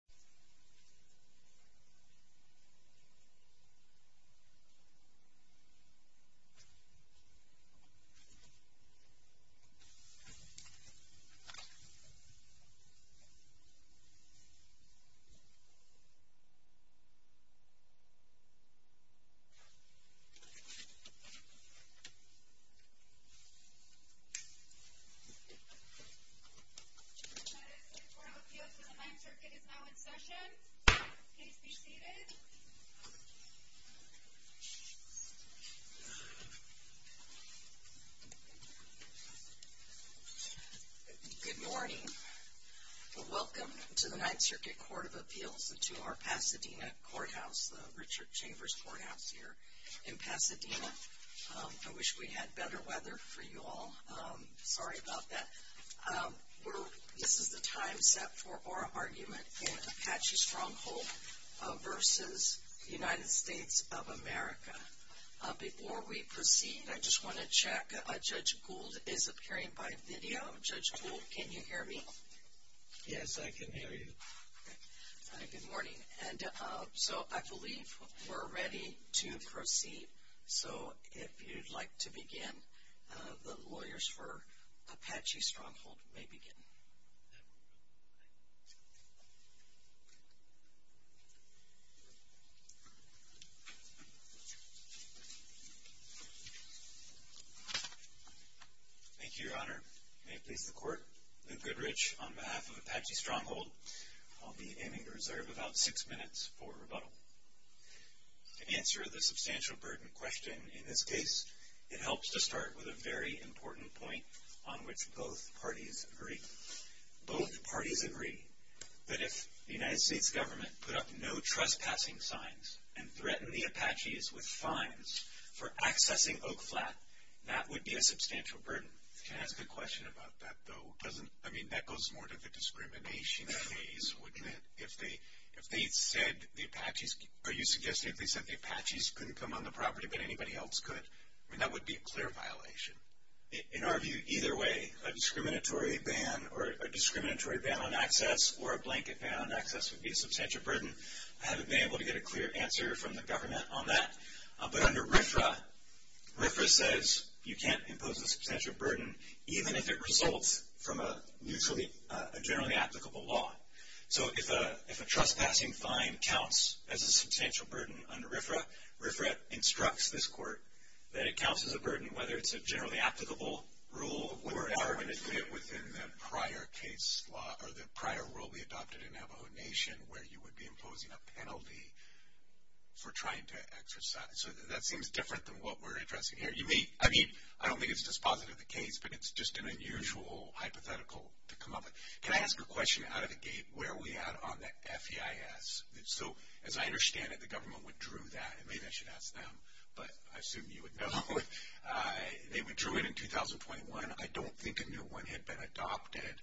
U.S. Embassy in the Philippines Good morning and welcome to the 9th Circuit Court of Appeals in Pasadena. I wish we had better weather for you all. I'm sorry about that. This is the time set for our argument in Apache Stronghold v. United States of America. Before we proceed, I just want to check. Judge Gould is appearing by video. Judge Gould, can you hear me? Yes, I can hear you. Good morning. I believe we're ready to proceed. So, if you'd like to begin, the lawyers for Apache Stronghold may begin. Thank you, Your Honor. May it please the Court, I'm Ben Friderich on behalf of Apache Stronghold. I'll be aiming to reserve about six minutes for rebuttal. To answer the substantial burden question in this case, it helps to start with a very important point on which both parties agree. Both parties agree that if the United States government put up no trespassing signs and threatened the Apaches with fines for accessing Oak Flat, that would be a substantial burden. Can I ask a question about that, though? I mean, that goes more to the discrimination case, wouldn't it? If they said the Apaches couldn't come on the property, but anybody else could, that would be a clear violation. In our view, either way, a discriminatory ban or a discriminatory ban on access or a blanket ban on access would be a substantial burden. I haven't been able to get a clear answer from the government on that. But under RFRA, RFRA says you can't impose a substantial burden, even if it results from a generally applicable law. So if a trespassing fine counts as a substantial burden under RFRA, RFRA instructs this court that it counts as a burden, whether it's a generally applicable rule or an argument within the prior case law or the prior rule we adopted in Navajo Nation where you would be imposing a penalty for trying to exercise. So that seems different than what we're addressing here. I mean, I don't mean it's just positive in the case, but it's just an unusual hypothetical to come up with. Can I ask a question out of the gate where we are on the FEIS? So as I understand it, the government withdrew that. Maybe I should ask them, but I assume you would know. They withdrew it in 2021. I don't think a new one had been adopted.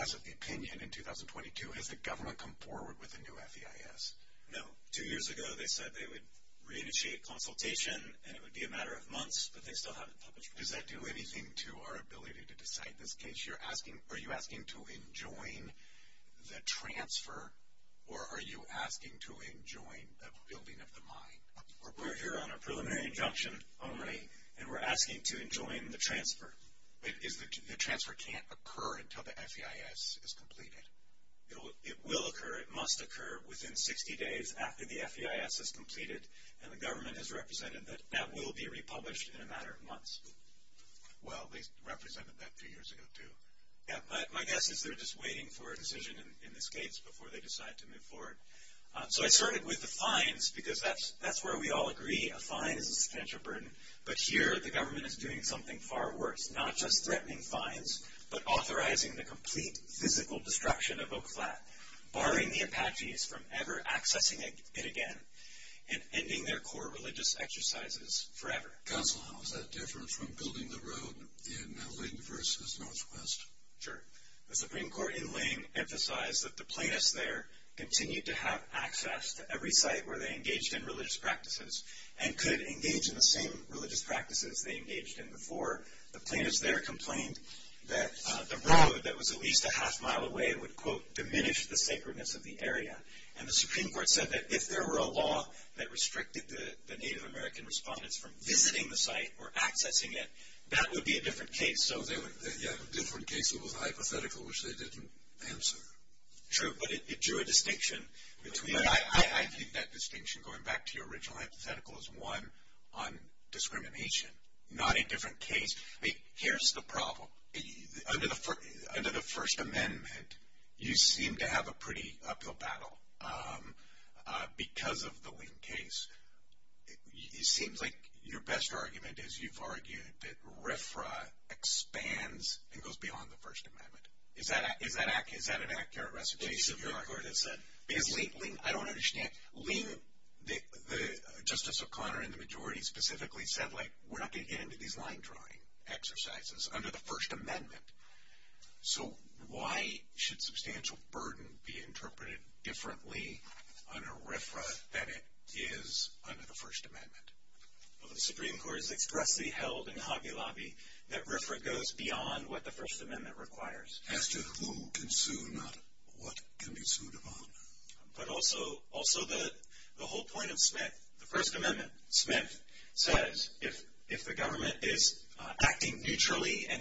As of the opinion in 2022, has the government come forward with a new FEIS? No. Two years ago they said they would renegotiate consultation, and it would be a matter of months, but they still haven't published it. Does that do anything to our ability to decide this case? Are you asking to enjoin the transfer, or are you asking to enjoin the building of the mine? We're here on a preliminary injunction only, and we're asking to enjoin the transfer. The transfer can't occur until the FEIS is completed. It will occur. It must occur within 60 days after the FEIS is completed, and the government has represented that that will be republished in a matter of months. Well, they represented that two years ago too. My guess is they're just waiting for a decision in this case before they decide to move forward. So I started with the fines, because that's where we all agree. A fine is a potential burden. But here the government is doing something far worse, not just threatening fines, but authorizing the complete physical destruction of Oak Flat, barring the Apaches from ever accessing it again, and ending their core religious exercises forever. Counsel, how is that different from building the road in Ling versus Northwest? Sure. The Supreme Court in Ling emphasized that the plaintiffs there continued to have access to every site where they engaged in religious practices and could engage in the same religious practices they engaged in before. The plaintiffs there complained that the road that was at least a half-mile away would, quote, diminish the sacredness of the area. And the Supreme Court said that if there were a law that restricted the Native American respondents from visiting the site or accessing it, that would be a different case. Yeah, a different case with a hypothetical which they didn't answer. Sure, but it drew a distinction. I think that distinction, going back to your original hypothetical, is one on discrimination, not a different case. Here's the problem. Under the First Amendment, you seem to have a pretty uphill battle because of the Ling case. It seems like your best argument is you've argued that RFRA expands and goes beyond the First Amendment. Is that an accurate recitation of your argument? I don't understand. Ling, Justice O'Connor and the majority specifically said, like, we're not going to get into these line-drawing exercises under the First Amendment. So why should substantial burden be interpreted differently under RFRA than it is under the First Amendment? Well, the Supreme Court has expressly held in Hagee Lobby that RFRA goes beyond what the First Amendment requires. As to who can sue, not what can be sued about. But also the whole point of Smith. The First Amendment, Smith, says if the government is acting neutrally and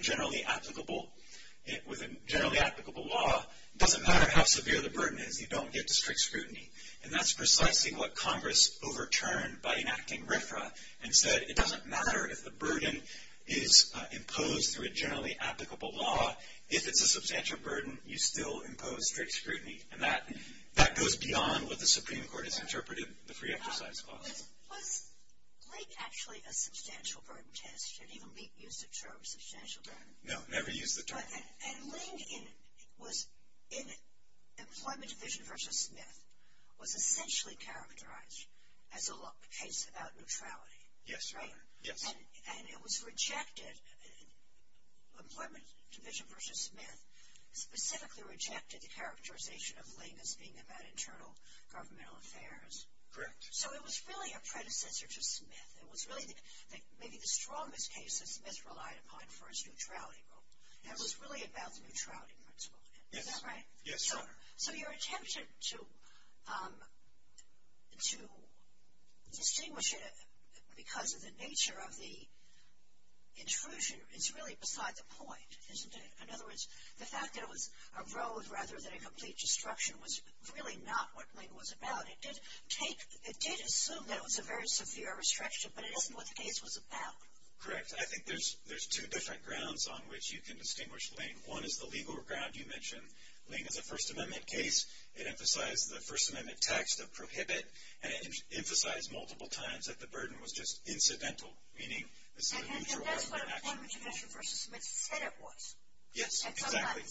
with a generally applicable law, it doesn't matter how severe the burden is, you don't get the strict scrutiny. And that's precisely what Congress overturned by enacting RFRA and said it doesn't matter if the burden is imposed through a generally applicable law. If it's a substantial burden, you still impose strict scrutiny. And that goes beyond what the Supreme Court has interpreted the free exercise clause. Was Ling actually a substantial burden test? Did he use the term substantial burden? No, never used the term. And Ling was in it. Employment Division versus Smith was essentially characterized as a case about neutrality. Yes. And it was rejected, Employment Division versus Smith, specifically rejected the characterization of Ling as being about internal governmental affairs. Correct. So it was really a predecessor to Smith. It was really maybe the strongest case that Smith relied upon for his neutrality rule. And it was really about the neutrality principle. Yes. Is that right? Yes. Sure. So your intention to distinguish it because of the nature of the intrusion is really beside the point, isn't it? In other words, the fact that it arose rather than a complete destruction was really not what Ling was about. It did assume that it was a very severe restriction, but it isn't what the case was about. Correct. I think there's two different grounds on which you can distinguish Ling. One is the legal ground you mentioned. Ling in the First Amendment case, it emphasized the First Amendment text of prohibit and it emphasized multiple times that the burden was just incidental, meaning it's not a neutral law. And that's what Employment Division versus Smith said it was. Yes, exactly.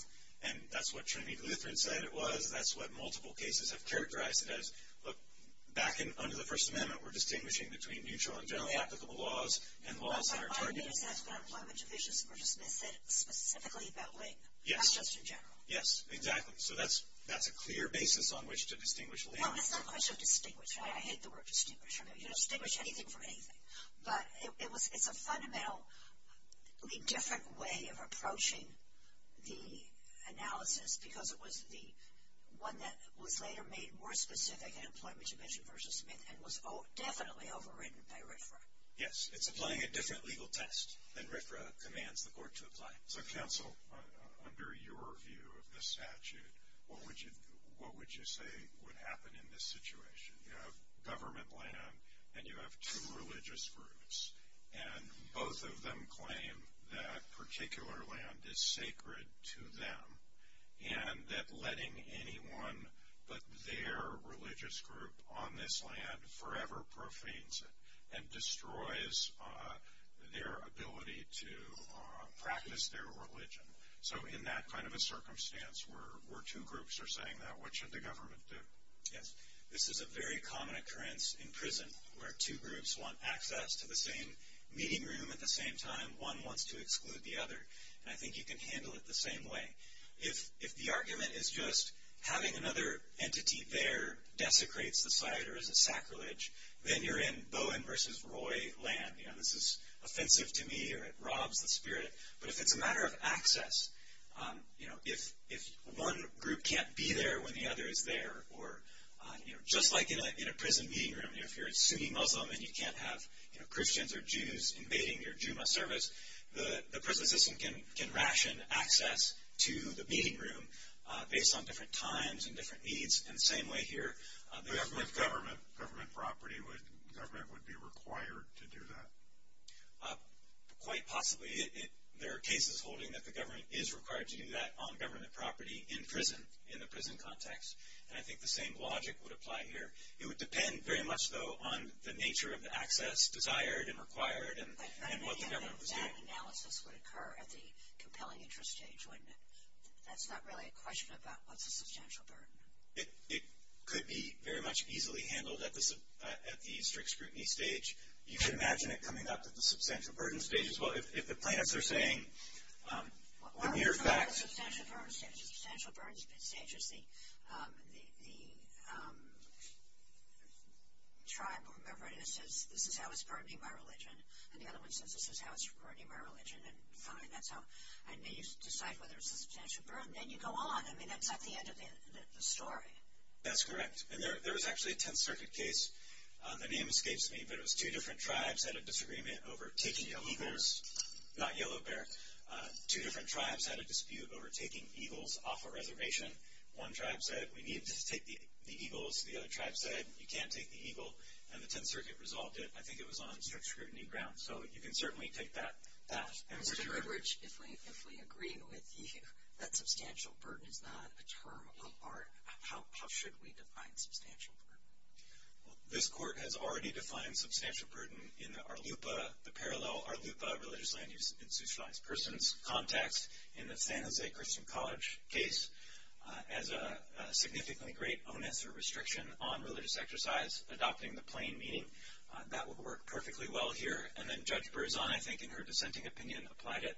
And that's what Trinity Lutheran said it was, and that's what multiple cases have characterized it as back under the First Amendment were distinguishing between neutral and generally applicable laws and laws that are targeted. And that's what Employment Division versus Smith said specifically about Ling, not just in general. Yes, exactly. So that's a clear basis on which to distinguish Ling. No, it's not a question to distinguish. I hate the word distinguish. You don't distinguish anything from anything. But it's a fundamentally different way of approaching the analysis because it was the one that was later made more specific in Employment Division versus Smith and was definitely overwritten by Rickford. Yes, it's applying a different legal test than Rickford demands the court to apply. So, counsel, under your view of the statute, what would you say would happen in this situation? You have government land and you have two religious groups, and both of them claim that particular land is sacred to them and that letting anyone but their religious group on this land forever profanes it and destroys their ability to practice their religion. So in that kind of a circumstance where two groups are saying that, what should the government do? Yes, this is a very common occurrence in prison where two groups want access to the same meeting room at the same time. One wants to exclude the other. And I think you can handle it the same way. If the argument is just having another entity there desecrates the site or is a sacrilege, then you're in Bowen versus Roy land. This is offensive to me or it robs the spirit. But if it's a matter of access, if one group can't be there when the other is there, or just like in a prison meeting room, if you're a Sunni Muslim and you can't have Christians or Jews invading your Juma service, the prison system can ration access to the meeting room based on different times and different needs in the same way here. The government property, would government be required to do that? Quite possibly. There are cases holding that the government is required to do that on government property in prison, in a prison context. And I think the same logic would apply here. It would depend very much, though, on the nature of the access desired and required and what the government was doing. That analysis would occur at the compelling interest stage. That's not really a question about what's a substantial burden. It could be very much easily handled at the eastern scrutiny stage. You can imagine it coming up at the substantial burden stage as well. If the plaintiffs are saying, what are your facts? Substantial burden stage is the tribe or whoever it is says, this is how it's burdening my religion. And the other one says, this is how it's burdening my religion. And then you decide whether it's a substantial burden. Then you go on. I mean, that's not the end of the story. That's correct. And there was actually a 10th Circuit case. The name escapes me, but it was two different tribes had a disagreement over taking yellow bears, not yellow bear. Two different tribes had a dispute over taking eagles off a reservation. One tribe said, we need to take the eagles. The other tribe said, you can't take the eagles. And the 10th Circuit resolved it. I think it was on strict scrutiny grounds. So you can certainly take that. Mr. Edwards, if we agree with you that substantial burden is not a term of art, how should we define substantial burden? Well, this Court has already defined substantial burden in the Arlupa, the parallel Arlupa religious land use institutionalized persons context in the San Jose Christian College case as a significantly great onus or restriction on religious exercise, adopting the plain meaning. That would work perfectly well here. And then Judge Berzon, I think, in her dissenting opinion, applied it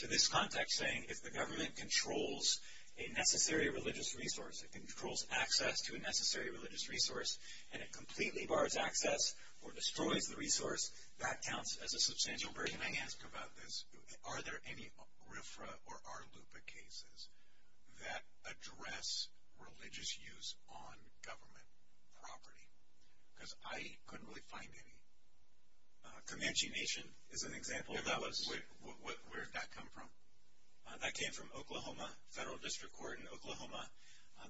to this context saying if the government controls a necessary religious resource, it controls access to a necessary religious resource, and it completely bars access or destroys the resource, that counts as a substantial burden. And I asked about this. Are there any RFRA or Arlupa cases that address religious use on government property? Because I couldn't really find any. Comanche Nation is an example of that. Where did that come from? That came from Oklahoma, Federal District Court in Oklahoma.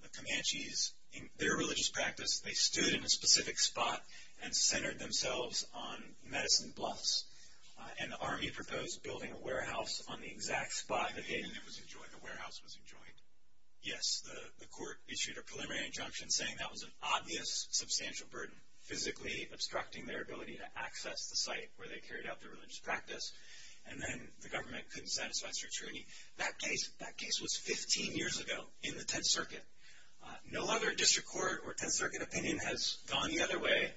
The Comanches, in their religious practice, they stood in a specific spot and centered themselves on medicine bluffs. And the Army proposed building a warehouse on the exact spot the agent was enjoying, the warehouse was enjoying. Yes, the court issued a preliminary injunction saying that was an obvious substantial burden, physically obstructing their ability to access the site where they carried out their religious practice. And then the government couldn't satisfy such a treaty. That case was 15 years ago in the Tenth Circuit. No other district court or Tenth Circuit opinion has gone the other way.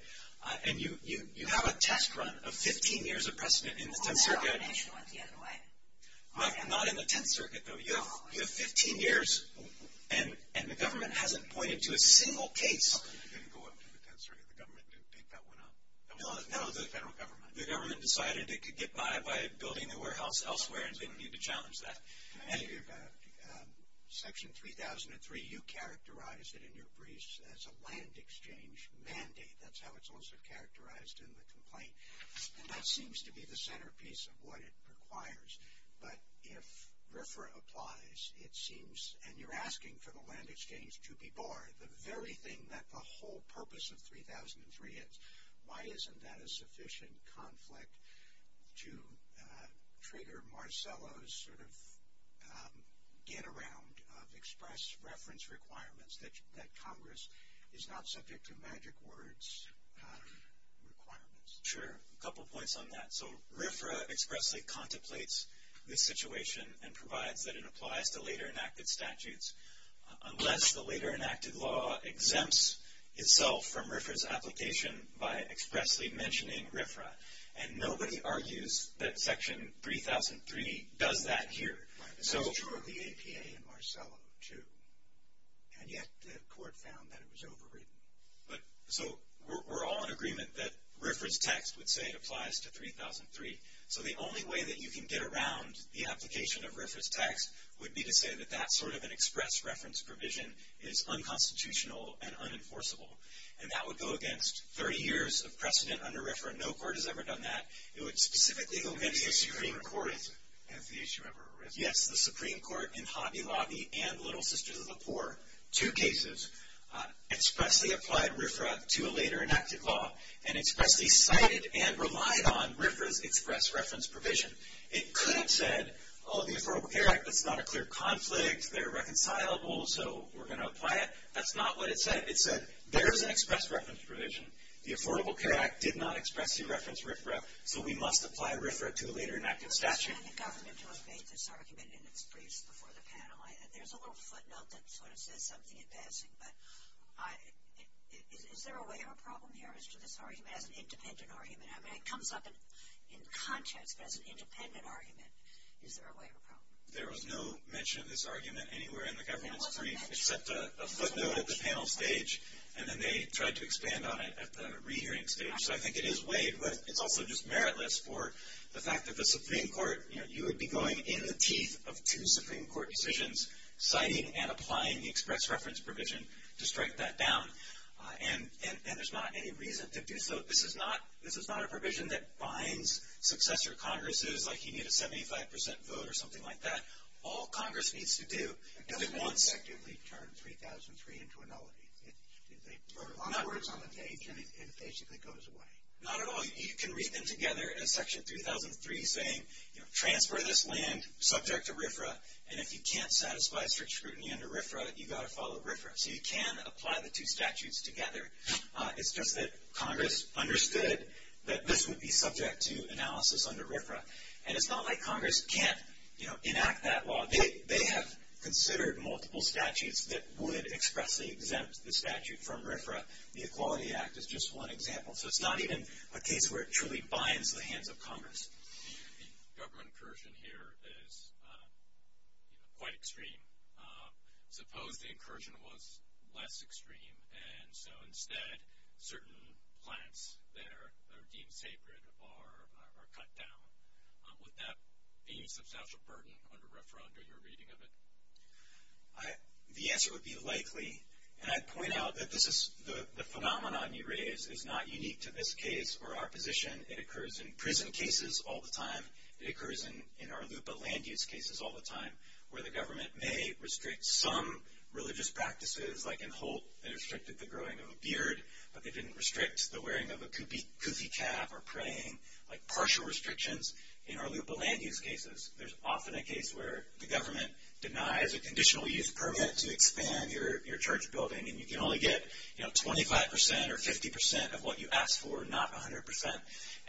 And you have a test run of 15 years of precedent in the Tenth Circuit. Not in the Tenth Circuit, though. You have 15 years, and the government hasn't pointed to a single case. It didn't go up to the Tenth Circuit. The government didn't pick that one up. No, the government decided it could get by by building a warehouse elsewhere and saying we need to challenge that. Section 3003, you characterized it in your briefs as a land exchange mandate. That's how it's also characterized in the complaint. And that seems to be the centerpiece of what it requires. But if RFRA applies, it seems, and you're asking for the land exchange to be barred, the very thing that the whole purpose of 3003 is, why isn't that a sufficient conflict to trigger Marcello's sort of get-around of express reference requirements that Congress is not subject to magic words requirements? That's true. A couple points on that. So RFRA expressly contemplates the situation and provides that it applies to later enacted statutes, unless the later enacted law exempts itself from RFRA's application by expressly mentioning RFRA. And nobody argues that Section 3003 does that here. So the APA and Marcello, too. And yet the court found that it was overwritten. So we're all in agreement that RFRA's text would say it applies to 3003. So the only way that you can get around the application of RFRA's text would be to say that that sort of an express reference provision is unconstitutional and unenforceable. And that would go against 30 years of precedent under RFRA. No court has ever done that. It would specifically go against the Supreme Court and Hobby Lobby and Little Sisters of the Poor, two cases, expressly applied RFRA to a later enacted law and expressly cited and relied on RFRA's express reference provision. It could have said, oh, the Affordable Care Act is not a clear conflict. They're reconcilable, so we're going to apply it. That's not what it said. It said there's an express reference provision. The Affordable Care Act did not expressly reference RFRA, so we must apply RFRA to a later enacted statute. And the government will evade this argument in the discussion before the panel. There's a little footnote that sort of says something in passing, but is there a way or a problem here as to this argument as an independent argument? I mean, it comes up in context as an independent argument. Is there a way or a problem? There was no mention of this argument anywhere in the government. We set a footnote at the panel stage, and then they tried to expand on it at the re-hearing stage. So I think it is weighed, but it's also just meritless for the fact that the Supreme Court, you know, you would be going in the teeth of two Supreme Court decisions, citing and applying the express reference provision to strike that down. And there's not any reason to do so. This is not a provision that binds successor Congresses, like you need a 75% vote or something like that. All Congress needs to do is one. It effectively turned 3003 into a novelty. In other words, on the page, and it basically goes away. Not at all. You can read them together as Section 3003 saying, you know, transfer this land subject to RFRA, and if you can't satisfy search scrutiny under RFRA, you've got to follow RFRA. So you can apply the two statutes together. It's just that Congress understood that this would be subject to analysis under RFRA. And it's not like Congress can't, you know, enact that law. They have considered multiple statutes that wouldn't expressly exempt the statute from RFRA. The Equality Act is just one example. So it's not even a case where it truly binds the hands of Congress. The government incursion here is quite extreme. Suppose the incursion was less extreme, and so instead certain plants that are deemed sacred are cut down. Would that be a substantial burden under RFRA under your reading of it? The answer would be likely. And I'd point out that the phenomenon you raised is not unique to this case or our position. It occurs in prison cases all the time. It occurs in our land use cases all the time where the government may restrict some religious practices, but they didn't restrict the wearing of a kufi cap or praying, like partial restrictions in our land use cases. There's often a case where the government denies a conditional use permit to expand your church building, and you can only get, you know, 25% or 50% of what you ask for and not 100%.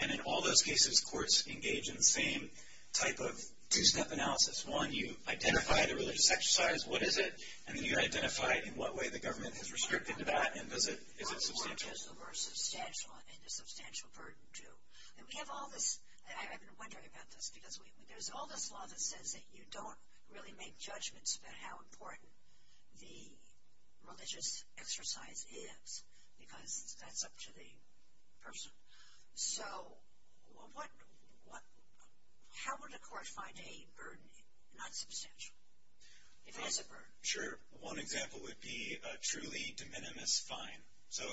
And in all those cases, of course, engage in the same type of three-step analysis. One, you identify the religious exercise. What is it? I mean, you identify in what way the government has restricted that, and is it substantial? It's not just the word substantial. It's a substantial burden, too. And we have all this. I've been wondering about this because there's all this law that says that you don't really make judgments about how important the religious exercise is because that's up to the person. So how would a court find a burden not substantial? It is a burden. Sure. One example would be a truly de minimis fine. So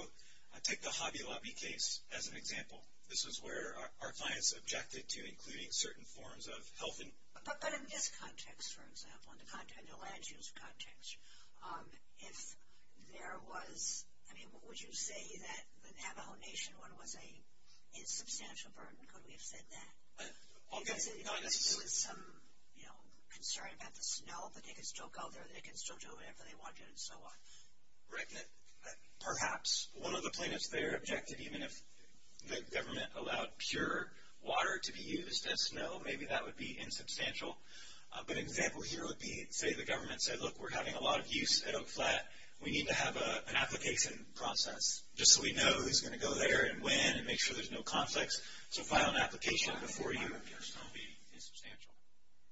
take the Hagi Labi case as an example. This is where our clients objected to including certain forms of helping. But in this context, for example, in the land use context, if there was, I mean, would you say that an abomination was a substantial burden? Could we have said that? All I'm getting at is there was some concern about the snow, but they can still go there and they can still do it after they want to and so on. Right. But perhaps one of the plaintiffs there objected even if the government allowed pure water to be used as snow, maybe that would be insubstantial. A good example here would be, say, the government said, look, we're having a lot of use at Oak Flat. We need to have an application process just so we know who's going to go there and when and make sure there's no conflicts. So if I have an application before you, it's going to be insubstantial.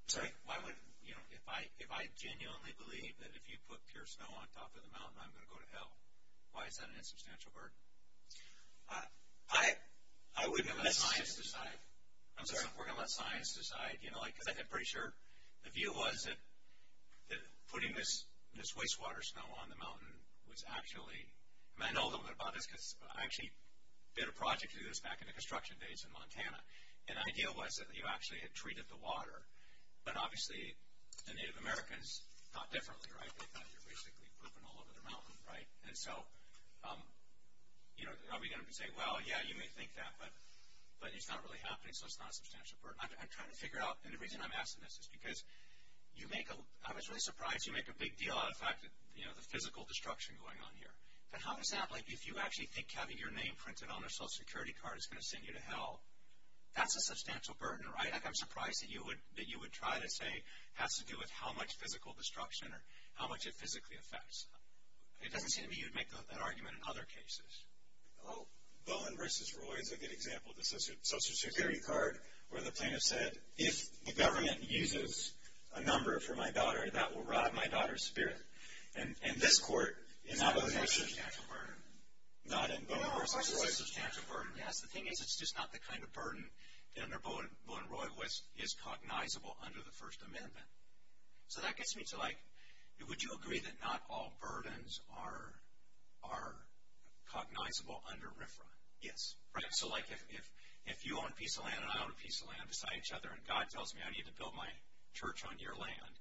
Sorry, if I genuinely believe that if you put pure snow on top of the mountain, I'm going to go to hell, why is that an insubstantial burden? I would let science decide. I'm sorry, I'm going to let science decide. I'm pretty sure the view was that putting this wastewater snow on the mountain was actually, and I know a little bit about this because I actually did a project with this back in the construction days in Montana, and the idea was that you actually had treated the water, but obviously the Native Americans thought differently, right? They thought it was basically dripping all over the mountain, right? And so, you know, somebody's going to be saying, well, yeah, you may think that, but it's not really happening so it's not substantial. I'm trying to figure out, and the reason I'm asking this is because you make a, I'm actually surprised you make a big deal out of the fact that, you know, there's a lot of physical destruction going on here, and how does that, like, if you actually think having your name printed on a Social Security card is going to send you to hell, that's a substantial burden, right? I'm surprised that you would try to say it has to do with how much physical destruction or how much it physically affects. Is there any chance that you would make that argument in other cases? Well, in versus Roy, the good example of the Social Security card where the plaintiff said, if the government uses a number for my daughter, that will rob my daughter's spirit. In this court, in other cases, it's a substantial burden. Not in versus Roy, it's a substantial burden. The thing is, it's just not the kind of burden that under voting versus Roy is cognizable under the First Amendment. So that gets me to, like, would you agree that not all burdens are cognizable under RFRA? Yes. Right. So, like, if you own a piece of land and I own a piece of land beside each other, and God tells me I need to build my church on your land,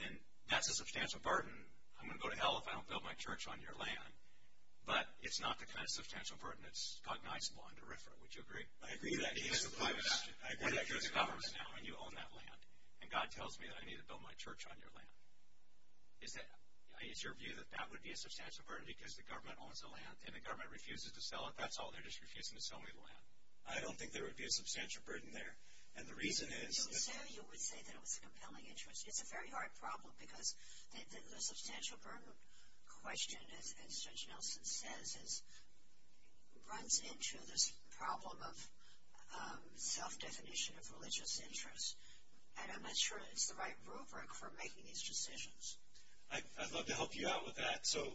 then that's a substantial burden. I'm going to go to hell if I don't build my church on your land. But it's not the kind of substantial burden that's cognizable under RFRA. Would you agree? I agree with that. I agree with the government on how you own that land. And God tells me that I need to build my church on your land. Is it your view that that would be a substantial burden because the government owns the land and the government refuses to sell it? That's all their discretion is telling people to have. I don't think there would be a substantial burden there. And the reason is that you would say that it was a compelling interest. It's a very hard problem because a substantial burden question, as Judge Nelson says, runs into this problem of self-definition of religious interests. And I'm not sure it's the right rubric for making these decisions. I'd love to help you out with that. So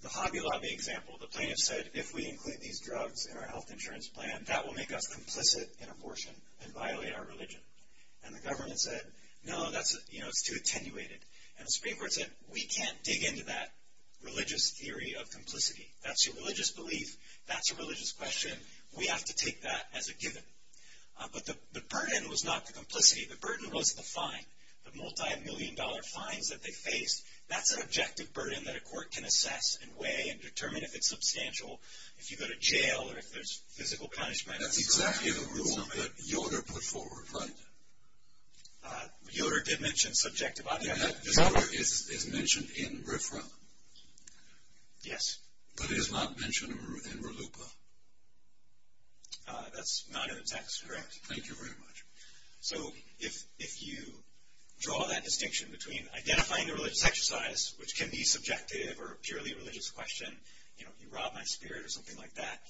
the Hobby Lobby example, the plaintiff says, if we include these drugs in our health insurance plan, that will make us complicit in abortion and violate our religion. And the government said, no, that's too attenuated. And the Supreme Court said, we can't dig into that religious theory of complicity. That's a religious belief. That's a religious question. We have to take that as a given. But the burden was not the complicity. The burden was the fine, the multimillion-dollar fines that they faced. That's an objective burden that a court can assess and weigh and determine if it's substantial if you go to jail or if there's physical punishment. That's exactly the rule that Yoder put forward, right? Yoder did mention subjective. Is it mentioned in RFRA? Yes. But it is not mentioned in RLUPA? That's correct. Thank you very much. So if you draw that distinction between identifying the religious exercise, which can be subjective or a purely religious question, you know, you robbed my spirit or something like that,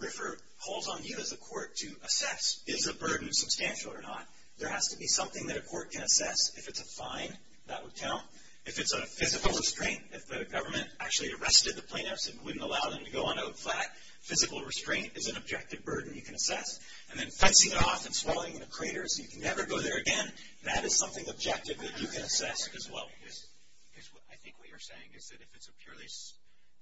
RFRA calls on you as a court to assess if the burden is substantial or not. There has to be something that a court can assess. If it's a fine, that would count. If it's a physical restraint, if the government actually arrested the plaintiffs and wouldn't allow them to go on to a plaque, physical restraint is an objective burden you can assess. And then fencing off and swallowing the craters so you can never go there again, that is something objective that you can assess as well. I think what you're saying is that if it's a purely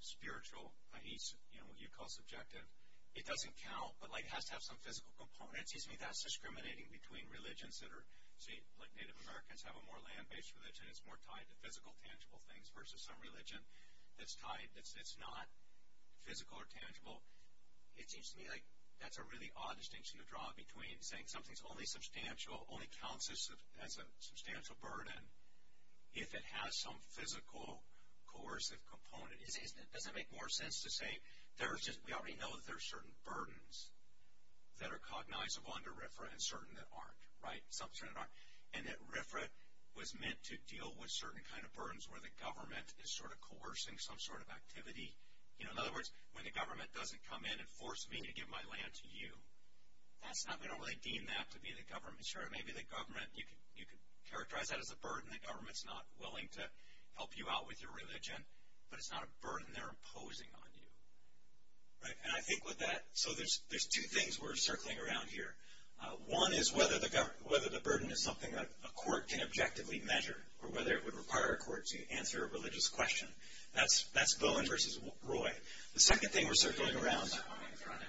spiritual, what you call subjective, it doesn't count. But it has to have some physical component. That's discriminating between religions that are, say, Native Americans have a more land-based religion that's more tied to physical, tangible things versus some religion that's tied that's not physical or tangible. It seems to me like that's a really odd distinction to draw between saying something's only substantial, only counts as a substantial burden if it has some physical coercive component. Doesn't it make more sense to say we already know that there are certain burdens that are cognizable under RFRA and certain that aren't, right? And that RFRA was meant to deal with certain kind of burdens where the government is sort of coercing some sort of activity. In other words, when the government doesn't come in and force me to give my land to you, that's not going to really deem that to be the government. Sure, maybe the government, you could characterize that as a burden. The government's not willing to help you out with your religion, but it's not a burden they're imposing on you. And I think with that, so there's two things we're circling around here. One is whether the burden is something that a court can objectively measure or whether it would require a court to answer a religious question. That's Bowen versus Roy. The second thing we're circling around is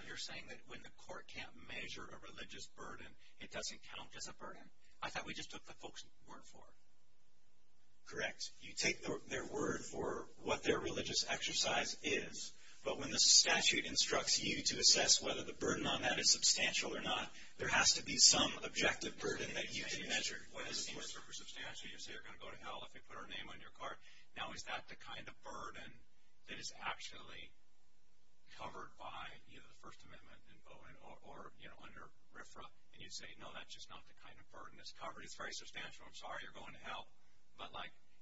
you're saying that when the court can't measure a religious burden, it doesn't count as a burden. I thought we just took the folks' word for it. Correct. You take their word for what their religious exercise is, but when the statute instructs you to assess whether the burden on that is substantial or not, there has to be some objective burden that you can measure. You say you're going to go to hell if you put our name on your card. Now, is that the kind of burden that is actually covered by either the First Amendment or under RFRA? And you say, no, that's just not the kind of burden that's covered. It's very substantial. I'm sorry you're going to hell, but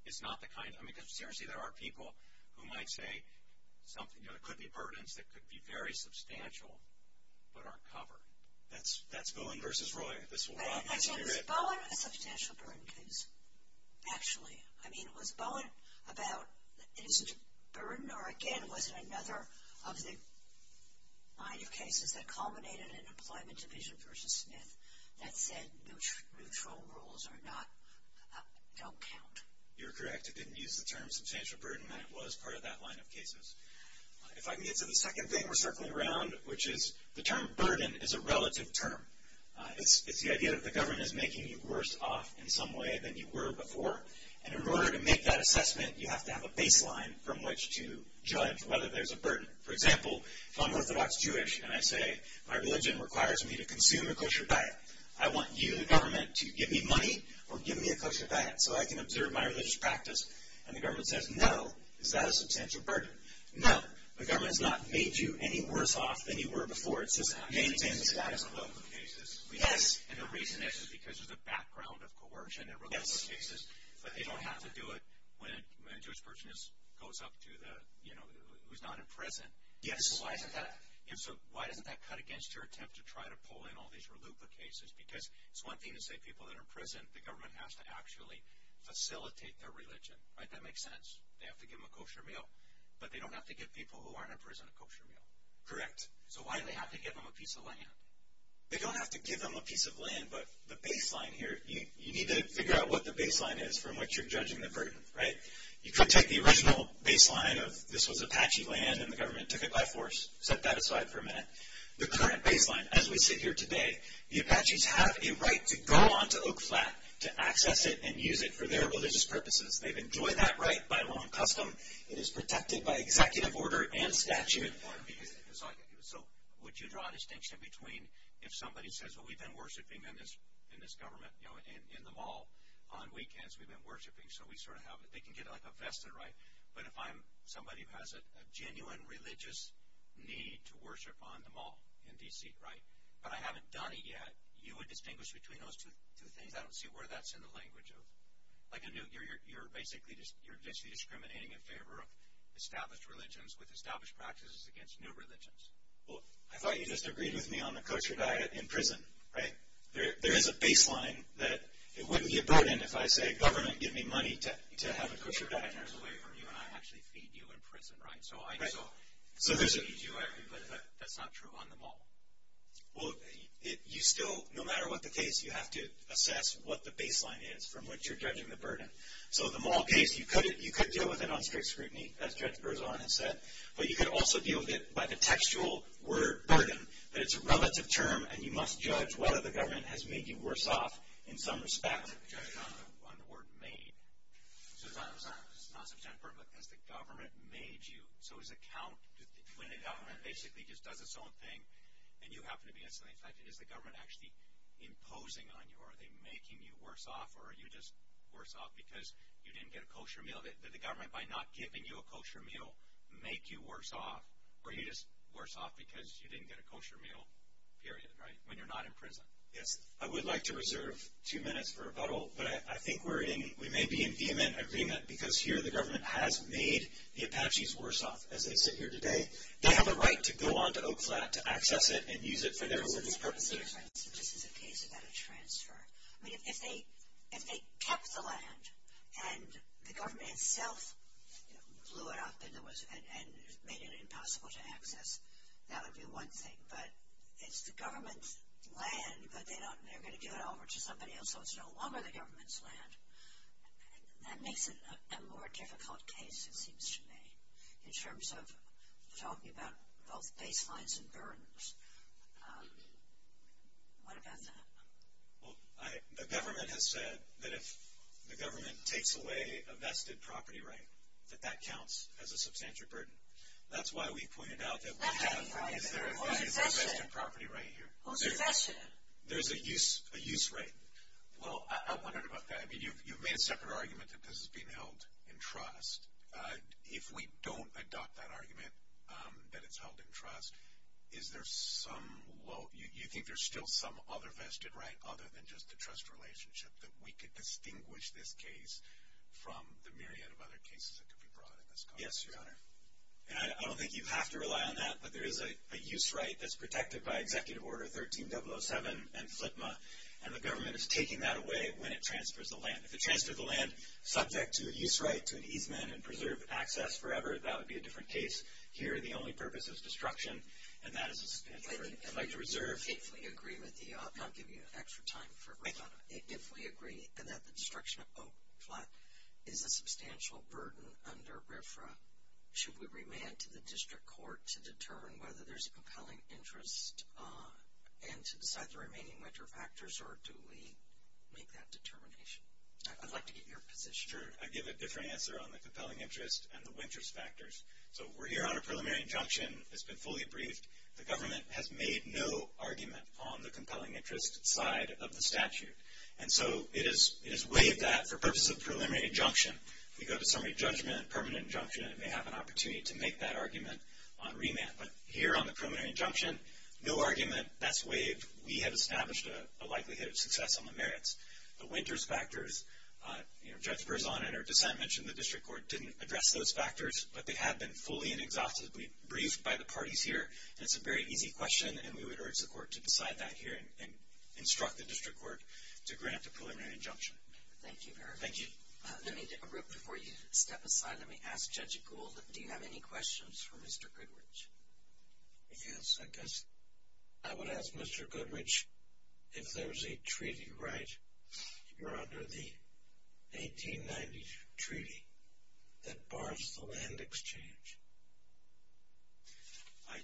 it's not the kind of burden. Because seriously, there are people who might say there could be burdens that could be very substantial but aren't covered. That's Bowen versus Roy. I said it was Bowen. It's a substantial burden case, actually. I mean, it was Bowen about his burden, or, again, was it another of the line of cases that culminated in an employment division versus Smith that said neutral rules don't count. You're correct. It didn't use the term substantial burden. That was part of that line of cases. If I can get to the second thing we're circling around, which is the term burden is a relative term. It's the idea that the government is making you worse off in some way than you were before. And in order to make that assessment, you have to have a baseline from which to judge whether there's a burden. For example, if I'm Orthodox Jewish and I say my religion requires me to consume a kosher diet, I want you, the government, to give me money or give me a kosher diet so I can observe my religious practice. And the government says, no, is that a substantial burden? No, the government has not made you any worse off than you were before. And the reason is because there's a background of coercion in religious cases, but they don't have to do it when a Jewish person goes up to who's not in prison. So why doesn't that cut against your attempt to try to pull in all these reluctant cases? Because it's one thing to say people that are in prison, the government has to actually facilitate their religion. That makes sense. They have to give them a kosher meal, but they don't have to give people who aren't in prison a kosher meal. Correct. So why do they have to give them a piece of land? They don't have to give them a piece of land, but the baseline here, you need to figure out what the baseline is from which you're judging the burden. You could take the original baseline of this was Apache land and the government took it by force. Set that aside for a minute. The current baseline, as we see here today, the Apaches have a right to go onto Oak Flat to access it and use it for their religious purposes. They've enjoyed that right by law and custom. It is protected by executive order and statute. So would you draw a distinction between if somebody says, well, we've been worshiping in this government, you know, in the mall on weekends. We've been worshiping, so we sort of have it. They can get like a vesta, right? But if I'm somebody who has a genuine religious need to worship on the mall in D.C., right, but I haven't done it yet, you would distinguish between those two things. I don't see where that's in the language. You're basically just discriminating in favor of established religions with established practices against new religions. Well, I thought you disagreed with me on the kosher diet in prison, right? There is a baseline that it wouldn't be a burden if I said, government, give me money to have a kosher diet and there's a way for you and I to actually feed you in prison, right? Right. So there's a need to, but that's not true on the mall. Well, you still, no matter what the case, you have to assess what the baseline is from which you're judging the burden. So the mall case, you could deal with it on strict scrutiny, as Judge Berzon has said, but you could also deal with it by the textual word burden, but it's a relative term and you must judge whether the government has made you worse off in some respect than the judgment on the court made. So it's not some temperament because the government made you, so it's a count when the government basically just does its own thing and you happen to be on somebody's side. Is the government actually imposing on you? Are they making you worse off or are you just worse off because you didn't get a kosher meal? Did the government, by not giving you a kosher meal, make you worse off or are you just worse off because you didn't get a kosher meal, period, right, when you're not in prison? Yes. I would like to reserve two minutes for rebuttal, but I think we may be in vehement agreement because here the government has made the Apaches worse off as they sit here today. They have a right to go on to Oak Flat to access it and use it for their living purposes. This is a case about a transfer. If they kept the land and the government itself blew it up and made it impossible to access, that would be one thing, but it's the government's land but they're going to give it over to somebody else so it's no longer the government's land. That makes it a more difficult case, it seems to me, in terms of talking about both baselines and burdens. What about that? The government has said that if the government takes away a vested property right, that that counts as a substantial burden. That's why we pointed out that we have a vested property right here. What does that say? There's a use right. I wondered about that. You made a separate argument that this is being held in trust. If we don't adopt that argument that it's held in trust, do you think there's still some other vested right other than just the trust relationship that we could distinguish this case from the myriad of other cases that could be brought in as well? Yes, Your Honor. I don't think you have to rely on that, but there is a use right that's protected by Executive Order 13.007 and FLTMA, and the government is taking that away when it transfers the land. If it transfers the land subject to a use right, to an easement and preserved access forever, that would be a different case. Here, the only purpose is destruction, and that is a right to reserve. If we agree with you, I'll give you extra time for it. If we agree that the destruction of Oak Flats is a substantial burden under RFRA, should we remand to the district court to determine whether there's compelling interest and to decide the remaining winter factors, or do we make that determination? I'd like to get your position. Sure. I'd give a different answer on the compelling interest and the winter factors. So we're here on a preliminary injunction that's been fully briefed. The government has made no argument on the compelling interest side of the statute, and so it is waived that for purposes of preliminary injunction. We go to summary judgment, permanent injunction, and may have an opportunity to make that argument on remand. But here on the preliminary injunction, no argument. That's waived. We have established a likelihood of success on the merits. The winter factors, you know, Jeff Verzon and our dissent mentioned the district court didn't address those factors, but they have been fully and exhaustively briefed by the parties here. It's a very easy question, and we would urge the court to decide that here and instruct the district court to grant the preliminary injunction. Thank you, Eric. Thank you. Let me take a break before you step aside. Let me ask Judge Gould, do you have any questions for Mr. Goodrich? If you don't second, I will ask Mr. Goodrich if there's a treaty right. Your Honor, the 1890 treaty that barred the land exchange.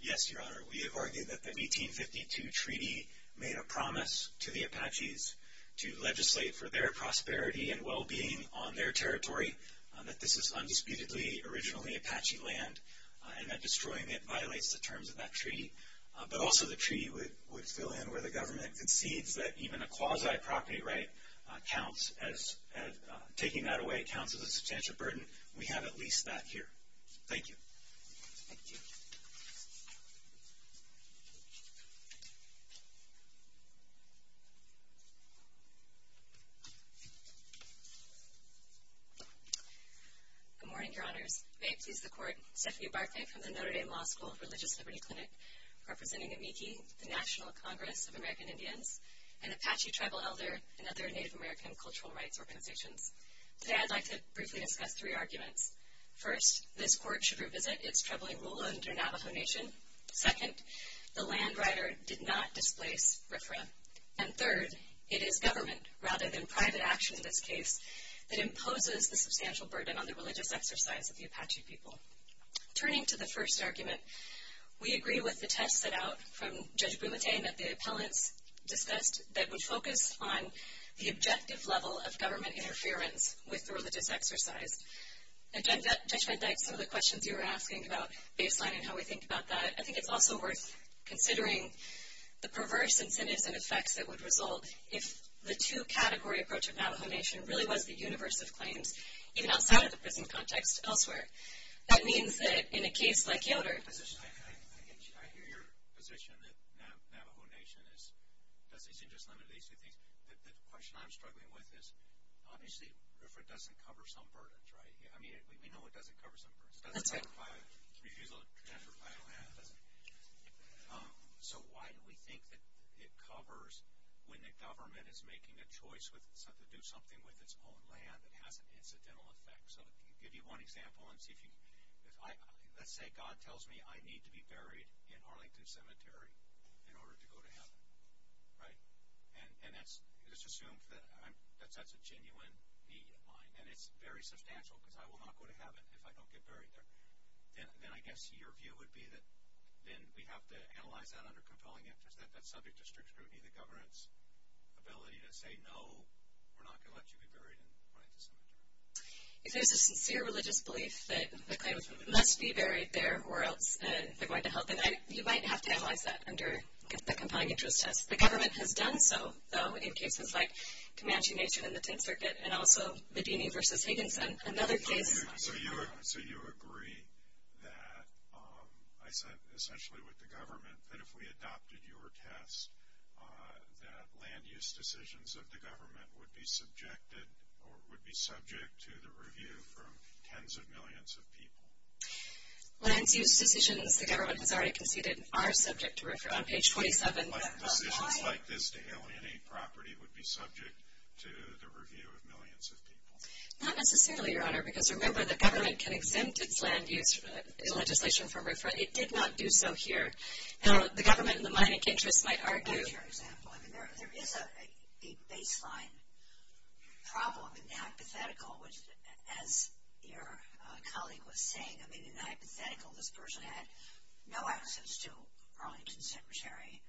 Yes, Your Honor, we have argued that the 1852 treaty made a promise to the Apaches to legislate for their prosperity and well-being on their territory, that this was undisputedly originally Apache land, and that destroying it violates the terms of that treaty. But also the treaty would fill in where the government concedes that even a quasi-property right counts as taking that away, counts as a substantial burden. We have at least that here. Thank you. Thank you. Good morning, Your Honor. Great to see the court. I'm Stephanie Barclay from the Notre Dame Law School's Religious Liberty Clinic, representing AMICI, the National Congress of American Indians, an Apache tribal elder, and other Native American cultural rights organizations. Today I'd like to briefly discuss three arguments. First, this court should revisit its troubling rule under Navajo Nation. Second, the land writer did not displace RFRA. And third, it is government, rather than private action in this case, that imposes a substantial burden on the religious exercise of the Apache people. Turning to the first argument, we agree with the test set out from Judge Brumacain that the appellant discussed that we focus on the objective level of government interference with the religious exercise. And Judge Van Dyke, some of the questions you were asking about baseline and how we think about that, I think it's also worth considering the perverse incentives and effects that would result if the two-category approach of Navajo Nation really was the universe of claims, even outside of the prison context elsewhere. That means that in a case like yours. I hear your position that Navajo Nation is just limited. The question I'm struggling with is, obviously, if it doesn't cover some verdict, right? I mean, we know it doesn't cover some verdict. So why do we think that it covers when the government is making a choice to do something with its own land that has an incidental effect? So to give you one example, let's say God tells me I need to be buried in Arlington Cemetery in order to go to heaven, right? And it's just assumed that that's a genuine need of mine, and it's very substantial, because I will not go to heaven if I don't get buried there. Then I guess your view would be that then we have to analyze that under compelling interest, that that's subject to strict scrutiny of the government's ability to say, no, we're not going to let you be buried in Arlington Cemetery. If there's a sincere religious belief that the claimants must be buried there or else they're going to help, you might have to analyze that under compelling interest. The government has done so in cases like Comanche Nation and the Pink Circuit and also Medina v. Higginson, another case. So you agree that, I said essentially with the government, that if we adopted your test, that land use decisions of the government would be subjected or would be subject to the review from tens of millions of people. Land use decisions the government has already conceded are subject to review. A decision like this to alienate property would be subject to the review of millions of people. Not necessarily, Your Honor, because remember the government can exempt its land use legislation from referral. It did not do so here. So the government in the market interest might argue. That's your example. I mean, there is a baseline problem in the hypothetical, as your colleague was saying. I mean, in the hypothetical, this person had no access to Arlington's Secretary.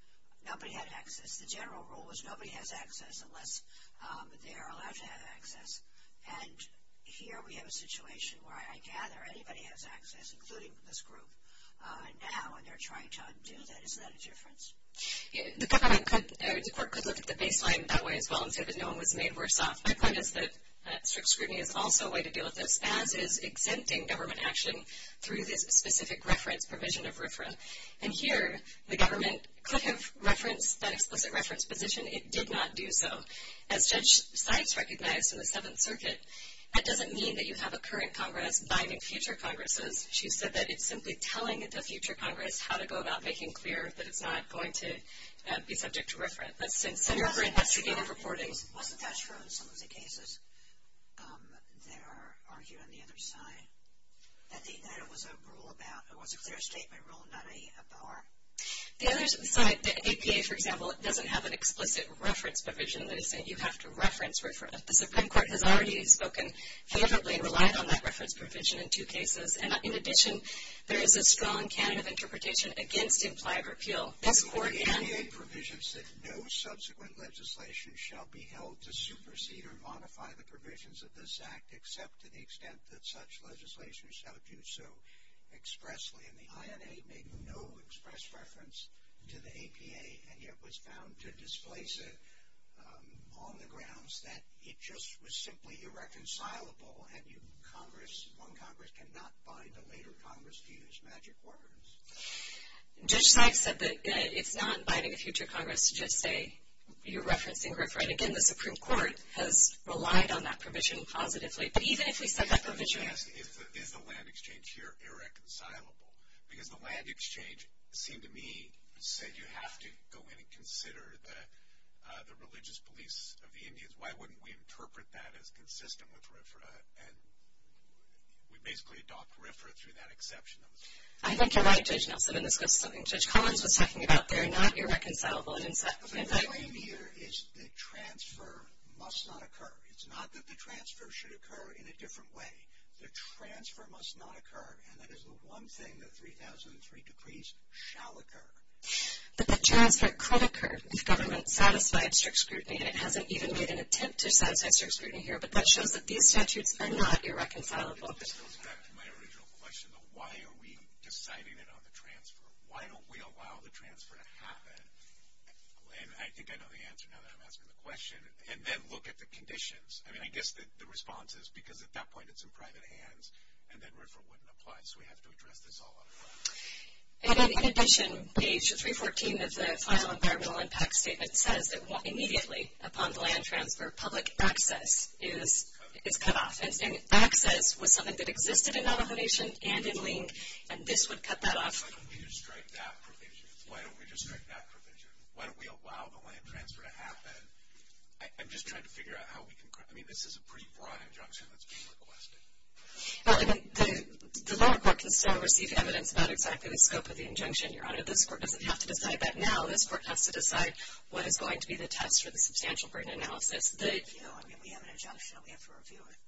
Nobody had access. The general rule was nobody has access unless they are allowed to have access. And here we have a situation where I gather anybody has access, including this group, and now when they're trying to undo that, isn't that a difference? The court could look at the baseline in that way and say that no one was made worse off. My point is that strict screening is also a way to deal with this. The government is exempting government action through this specific reference provision of referral. And here the government could have referenced that explicit reference position. It did not do so. As Judge Seitz recognized in the Seventh Circuit, that doesn't mean that you have a current Congress binding future Congresses. She said that it's simply telling the future Congress how to go about making clear that it's not going to be subject to reference. Let's see. Senator Britt, what's your view on reporting? It wasn't asked for in some of the cases. They are arguing on the other side that there was a clear statement rule about an EFR. The other side, the APA, for example, it doesn't have an explicit reference provision. It is that you have to reference. The Supreme Court has already spoken favorably and relied on that reference provision in two cases. And in addition, there is a strong canon of interpretation against the implied repeal. The APA provisions said no subsequent legislation shall be held to supersede or modify the provisions of this Act except to the extent that such legislation shall do so expressly. And the INA made no express reference to the APA and yet was bound to displace it on the grounds that it just was simply irreconcilable and one Congress cannot bind the later Congress to use magic words. Judge Knight said that it's not binding a future Congress to just say you're referencing RIFRA. And again, the Supreme Court has relied on that provision positively. But even if we set that provision up. Is the land exchange here irreconcilable? Because the land exchange seemed to me to say you have to go in and consider the religious beliefs of the Indians. Why wouldn't we interpret that as consistent with RIFRA? And we basically adopt RIFRA through that exception. I think you're right, Judge Nelson. In the principle that Judge Collins was talking about, they're not irreconcilable. The claim here is the transfer must not occur. It's not that the transfer should occur in a different way. The transfer must not occur. And that is the one thing that 3003 decrees shall occur. But the transfer could occur if government satisfies strict scrutiny. It hasn't even made an attempt to satisfy strict scrutiny here. But the exceptions are not irreconcilable. This goes back to my original question, though. Why are we deciding it on the transfer? Why don't we allow the transfer to happen? And I think I know the answer now that I'm asking the question. And then look at the conditions. I mean, I guess the response is because at that point it's in private hands and that RIFRA wouldn't apply. So we have to address this all otherwise. In addition, page 314 of the final environmental impact statement says that walking immediately upon the land transfer public access is cut off. And access was something that existed in Navajo Nation and in LINC, and this would cut that off. Why don't we restrict that provision? Why don't we restrict that provision? Why don't we allow the land transfer to happen? I'm just trying to figure out how we can. I mean, this is a pretty broad injunction that's being requested. The rural court can still receive evidence, not exactly the scope of the injunction. The court doesn't have to decide that now. The court has to decide what is going to be the test for the substantial burden analysis. We have an injunction. We have to review it.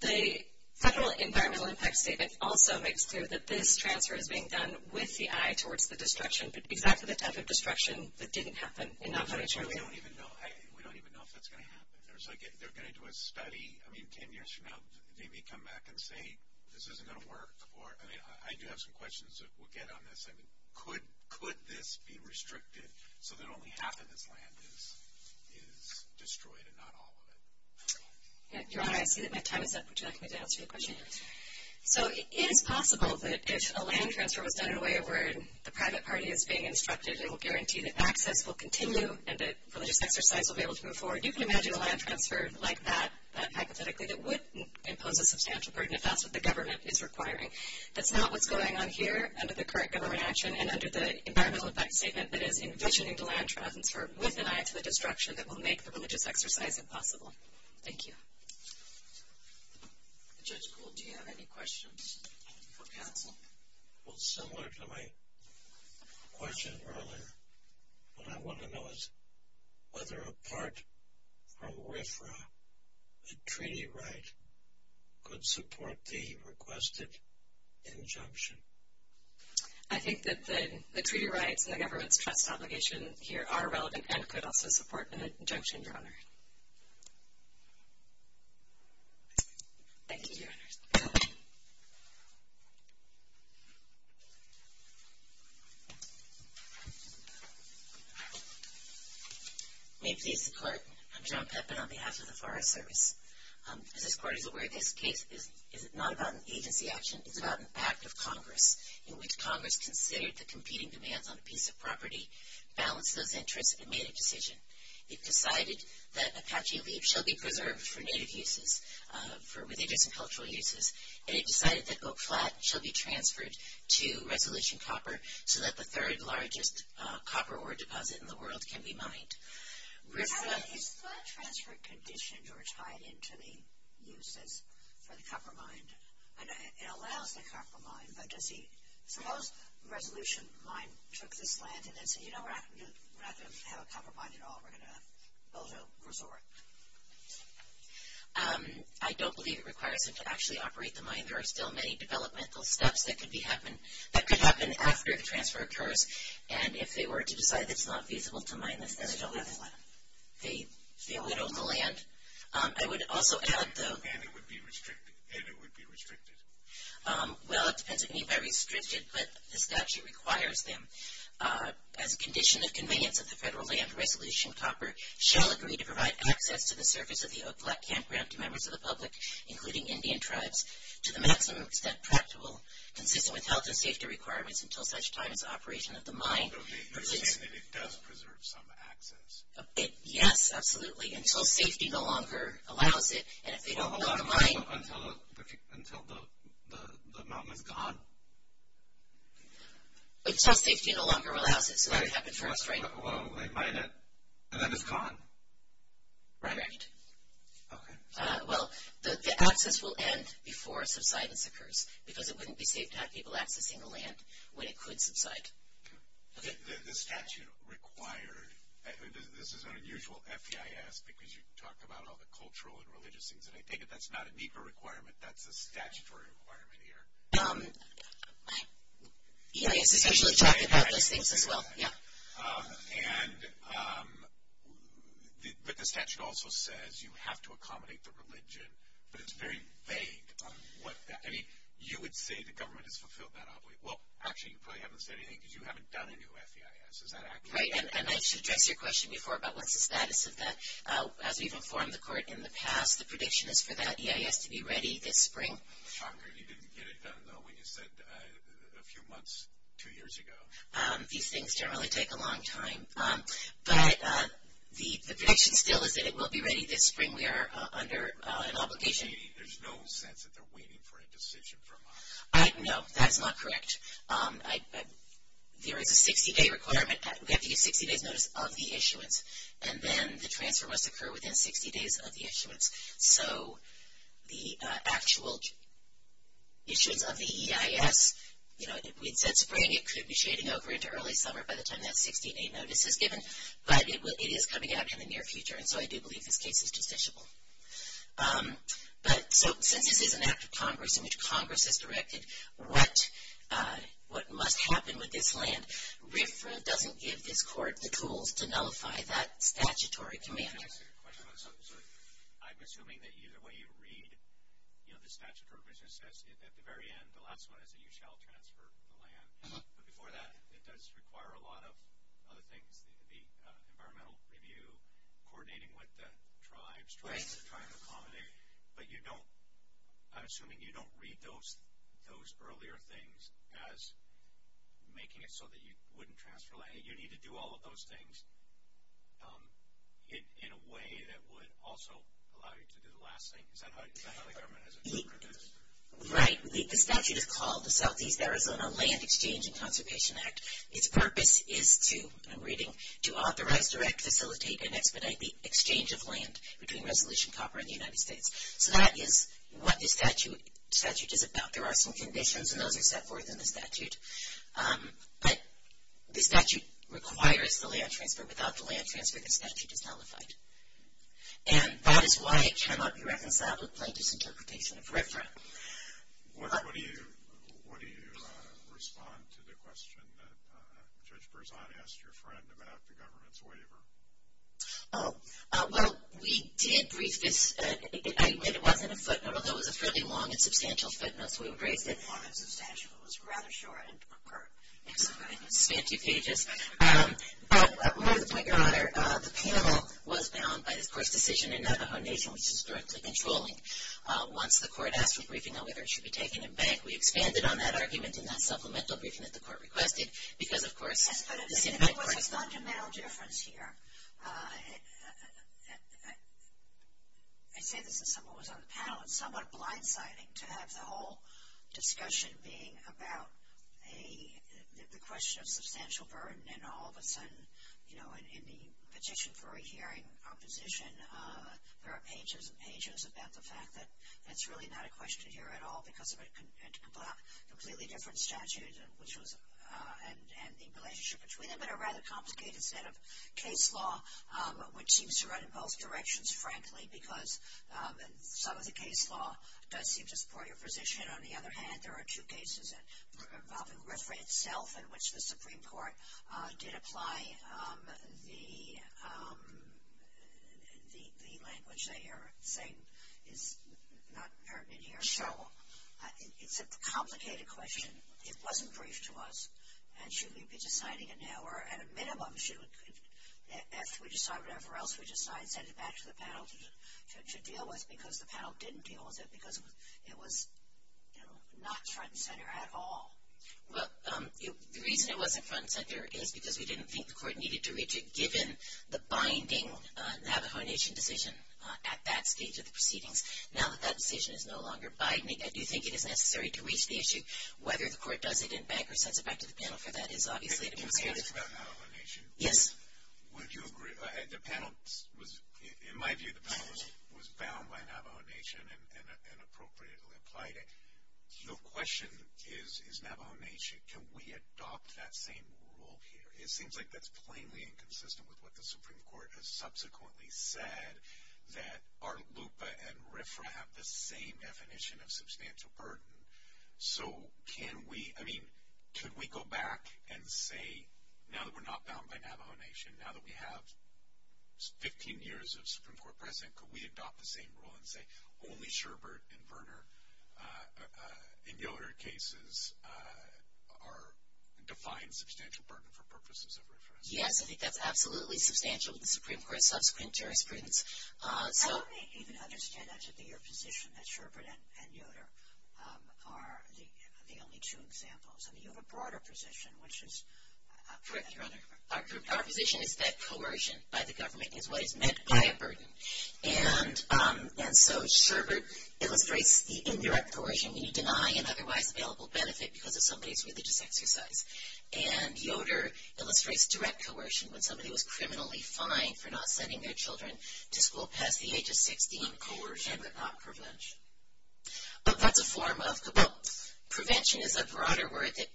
The federal environmental impact statement also makes clear that this transfer is being done with the eye towards the destruction, but exactly the type of destruction that didn't happen in Navajo Nation. We don't even know if it's going to happen. They're going to do a study. I mean, can they come back and say this isn't going to work? I mean, I do have some questions that we'll get on this. Could this be restricted so that only half of this land is destroyed and not all of it? Your Honor, I see that my time is up. Would you like me to help you with a question? So it is possible that if a land transfer was done in a way where the private party is being instructed and will guarantee that access will continue and that the legislature side will be able to move forward, you can imagine a land transfer like that, hypothetically, that would impose a substantial burden. That's what the government is requiring. That's not what's going on here under the current government action and under the environmental effect statement that is envisioning the land transfer with an eye to the destruction that will make the religious exercise impossible. Thank you. Judge Gould, do you have any questions for counsel? Well, similar to my question earlier, what I want to know is whether a part or way for a treaty right could support the requested injunction. I think that the treaty rights and the government's obligation here are relevant and could also support an injunction, Your Honor. Thank you, Your Honor. We seek support on behalf of the Forest Service. This court is aware that this case is not about an agency action. It's about an act of Congress in which Congress can say the competing demands on a piece of property, balance of interest, and make a decision. It's decided that Apache Leaves shall be preserved for native uses, for religious and cultural uses, and it's decided that Oak Flat shall be transferred to Resolution Copper so that the third largest copper ore deposit in the world can be mined. Is the transfer condition tied into the use of the copper mine? It allows the copper mine, but does the Resolution mine, because it's landed in Seattle, we're not going to have a copper mine at all. We're going to build a resort. I don't believe it requires us to actually operate the mine. There are still many developmental steps that could happen after the transfer occurs, and if they were to decide it's not feasible to mine this, then they'd have to pay a little in the land. I would also add, though, that it would be restricted. Well, that doesn't mean that it's restricted, but the statute requires them. As a condition of convenience of the federal land, Resolution Copper shall agree to provide access to the surface of the Oak Flat campground to members of the public, including Indian tribes, to the maximum extent practical consistent with health and safety requirements until such time as the operation of the mine. You're saying that it does preserve some access? Yes, absolutely, until safety no longer allows it. Until the mine is gone? Until safety no longer allows it, because everything happens for us, right? Well, they mine it, and then it's gone. Right. Okay. Well, the access will end before subsidence occurs, because it wouldn't be safe to have people accessing the land when it could subside. The statute requires, and this is an unusual FEIS, because you talked about all the cultural and religious things, and I take it that's not a NEPA requirement. That's a statutory requirement here. Yeah, it's officially talked about those things as well, yeah. But the statute also says you have to accommodate the religion, but it's very vague. You would say the government has fulfilled that obligation. Well, actually, you probably haven't said anything, because you haven't done a new FEIS. Is that accurate? Right, and I should address your question before about what the status is. As we've informed the court in the past, the prediction is for that FEIS to be ready this spring. I'm afraid you didn't get it done, though. We just did it a few months, two years ago. These things generally take a long time. But the prediction still is that it will be ready this spring. We are under an obligation. There's no sense that they're waiting for a decision from us. No, that is not correct. There is a 60-day requirement. We have to get a 60-day notice of the issuance, and then the transfer must occur within 60 days of the issuance. So the actual issuance of the EIS, you know, if we had said spring, it should be shading over into early summer by the time that 60-day notice is given. But it is coming out in the near future, and so I do believe this case is judiciable. But since this is an act of Congress and it's Congress that's directed what must happen with this land, RFRA doesn't give this court the tools to nullify that statutory command. I have a question. I'm assuming that what you read, you know, the statutory provision says at the very end, the last one is that you shall transfer the land. Before that, it does require a lot of other things. It would be environmental review, coordinating with the tribes, trying to accommodate. But you don't, I'm assuming you don't read those earlier things as making it so that you wouldn't transfer land. You need to do all of those things in a way that would also allow you to do the last thing. Is that how the government does it? Right. The statute is called the Southeast Arizona Land Exchange and Consultation Act. Its purpose is to, I'm reading, to authorize, direct, facilitate, and expedite the exchange of land between Resolution Copper and the United States. So that is what the statute is about. There are some conditions, and those are set forth in the statute. But the statute requires the land transfer. Without the land transfer, the statute is nullified. And that is why it cannot be reconciled with Plaintiff's interpretation of reference. What do you respond to the question that Judge Berzahn asked your friend about the government's waiver? Well, we did reach this. It wasn't a footnote. It was a fairly long and substantial footnote. We agreed that part of the statute was rather short. Thank you, P.H.S. But I will say, Your Honor, the panel was down by, of course, decision in that the foundation was historically controlling. Once the court asked for briefing, the waiver should be taken in bank. We expanded on that argument in that supplemental briefing that the court requested, because, of course, as Judge Berzahn said, there's a fundamental difference here. I say this because someone was on the panel. It was somewhat blindsiding to have the whole discussion being about the question of substantial burden, and all of a sudden, you know, in the petition for a hearing proposition, there are pages and pages about the fact that it's really not a question here at all, because we had to put out completely different statutes and the relationship between them. And a rather complicated set of case law, which seems to run in both directions, frankly, because some of the case law does seem to support your position. On the other hand, there are two cases involving RFRA itself, in which the Supreme Court did apply the language that you're saying is not pertinent here. So it's a complicated question. It wasn't briefed to us. And should we be deciding it now, or at a minimum, should we decide it everywhere else? Should we decide it back to the panel to deal with, because the panel didn't deal with it, because it was not front and center at all? Well, the reason it wasn't front and center is because we didn't think the court needed to reach it, given the binding Navajo Nation decision at that stage of the proceedings. Now that that decision is no longer binding, I do think it is necessary to reach the issue, whether the court does it in bank or sends it back to the panel for that involvement. You're talking about Navajo Nation. Yes. Would you agree? In my view, the panel was bound by Navajo Nation and appropriately applied it. So the question is, is Navajo Nation, can we adopt that same rule here? It seems like that's plainly inconsistent with what the Supreme Court has subsequently said, that ART LUPA and RFRA have the same definition of substantial burden. So can we, I mean, can we go back and say, now that we're not bound by Navajo Nation, now that we have 15 years of Supreme Court presence, can we adopt the same rule and say, only Sherbert and Verner, in Yoder cases, are defined substantial burden for purposes of RFRA? Yes, I think that's absolutely substantial in the Supreme Court's subsequent jurisprudence. I don't even understand that to be your position, that Sherbert and Yoder are the only two examples. I mean, you have a broader position, which is correct. Our position is that coercion by the government is what is meant by a burden. And so Sherbert illustrates the indirect coercion, meaning denying an otherwise available benefit because of somebody's religious exercise. And Yoder illustrates direct coercion, when somebody was criminally fined for not sending their children to school past the age of 16, coercion without prevention. But that's the form of the book. Prevention is a broader word that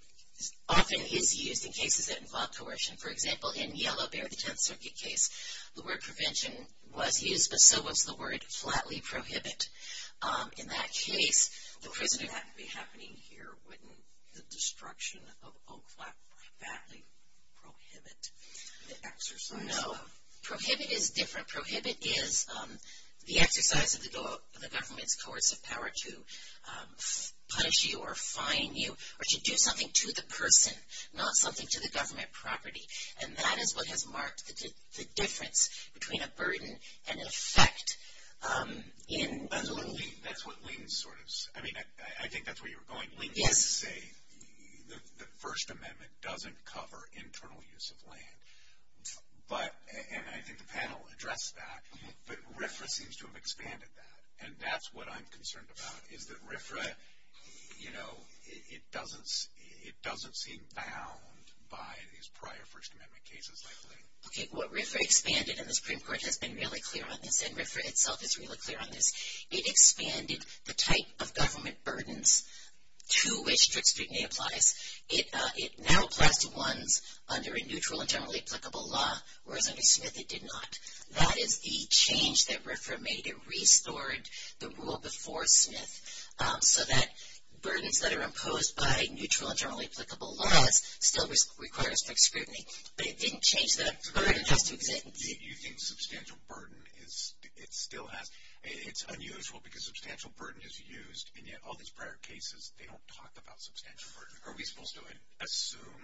often is used in cases that involve coercion. For example, in Yellow Bear, the Trump Circuit case, the word prevention was used, but so was the word flatly prohibit. In that case, the prison had to be happening here, wouldn't the destruction of old flatly prohibit the exercise? No, prohibit is different. Prohibit is the exercise of the government's coercive power to punish you or fine you, or to do something to the person, not something to the government property. And that is what has marked the difference between a burden and effect. I think that's where you were going. The First Amendment doesn't cover internal use of land. And I think the panel addressed that. But RFRA seems to have expanded that. And that's what I'm concerned about, is that RFRA, you know, it doesn't seem bound by these prior First Amendment cases, I believe. Okay, well, RFRA expanded, and the Supreme Court has been really clear on this, and RFRA itself is really clear on this. It expanded the type of government burdens to which strict scrutiny applies. It now applies to ones under a neutral and generally applicable law, where under Smith it did not. That is the change that RFRA made. It restored the rule before Smith so that burdens that are imposed by neutral and generally applicable laws still require strict scrutiny. But it didn't change the burden. Using substantial burden, it still has. It's unusual because substantial burden is used, and yet all these prior cases, they don't talk about substantial burden. Are we supposed to assume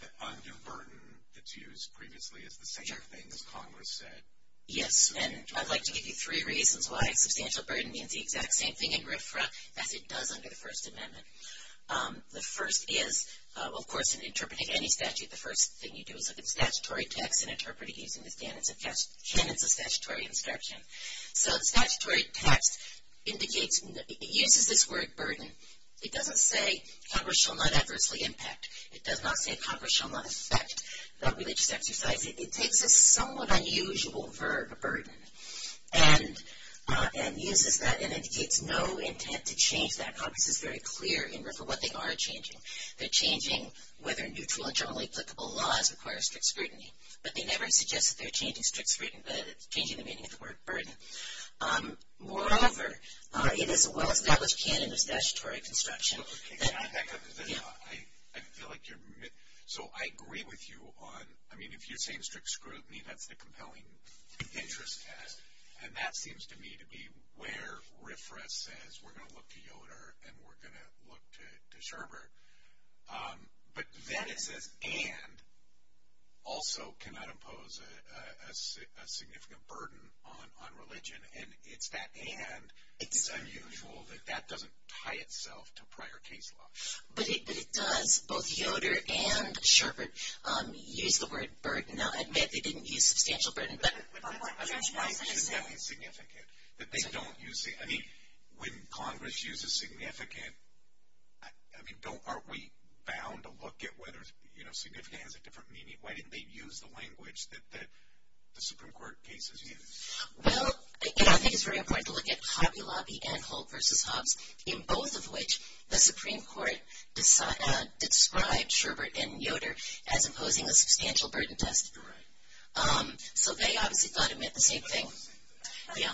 that undue burden that's used previously is the same thing as Congress said? Yes. And I'd like to give you three reasons why substantial burden means the exact same thing in RFRA as it does under the First Amendment. The first is, of course, in interpreting any statute, the first thing you do is look at the statutory text and interpret it using the standards of statute and the statutory instruction. So the statutory text indicates that the end of this word, burden, it doesn't say Congress shall not adversely impact. It does not say Congress shall not inspect. It's a somewhat unusual verb, burden, and uses that, and it gives no intent to change that. Congress is very clear in terms of what they are changing. They're changing whether neutral and generally applicable laws require strict scrutiny, but they never suggest that they're changing strict scrutiny, but it's changing the meaning of the word burden. Moreover, it is a well-established canon of statutory construction. So I agree with you on, I mean, if you're saying strict scrutiny, that's the compelling nature of the canon, and that seems to me to be where RFRA says we're going to look to Yoder and we're going to look to Scherber. But then it says and also cannot impose a significant burden on religion, and it's that and that is unusual. That doesn't tie itself to prior case law. But it does. Both Yoder and Scherber use the word burden. Now, admittedly, they didn't use substantial burden. Significant, significant. I mean, when Congress uses significant, aren't we bound to look at whether significant has a different meaning? Why didn't they use the language that the Supreme Court cases use? Well, again, I think it's very important to look at Hobby Lobby and Whole Persons Hub, in both of which the Supreme Court described Scherber in Yoder as imposing a substantial burden test. So they obviously thought of it the same way. So, yeah.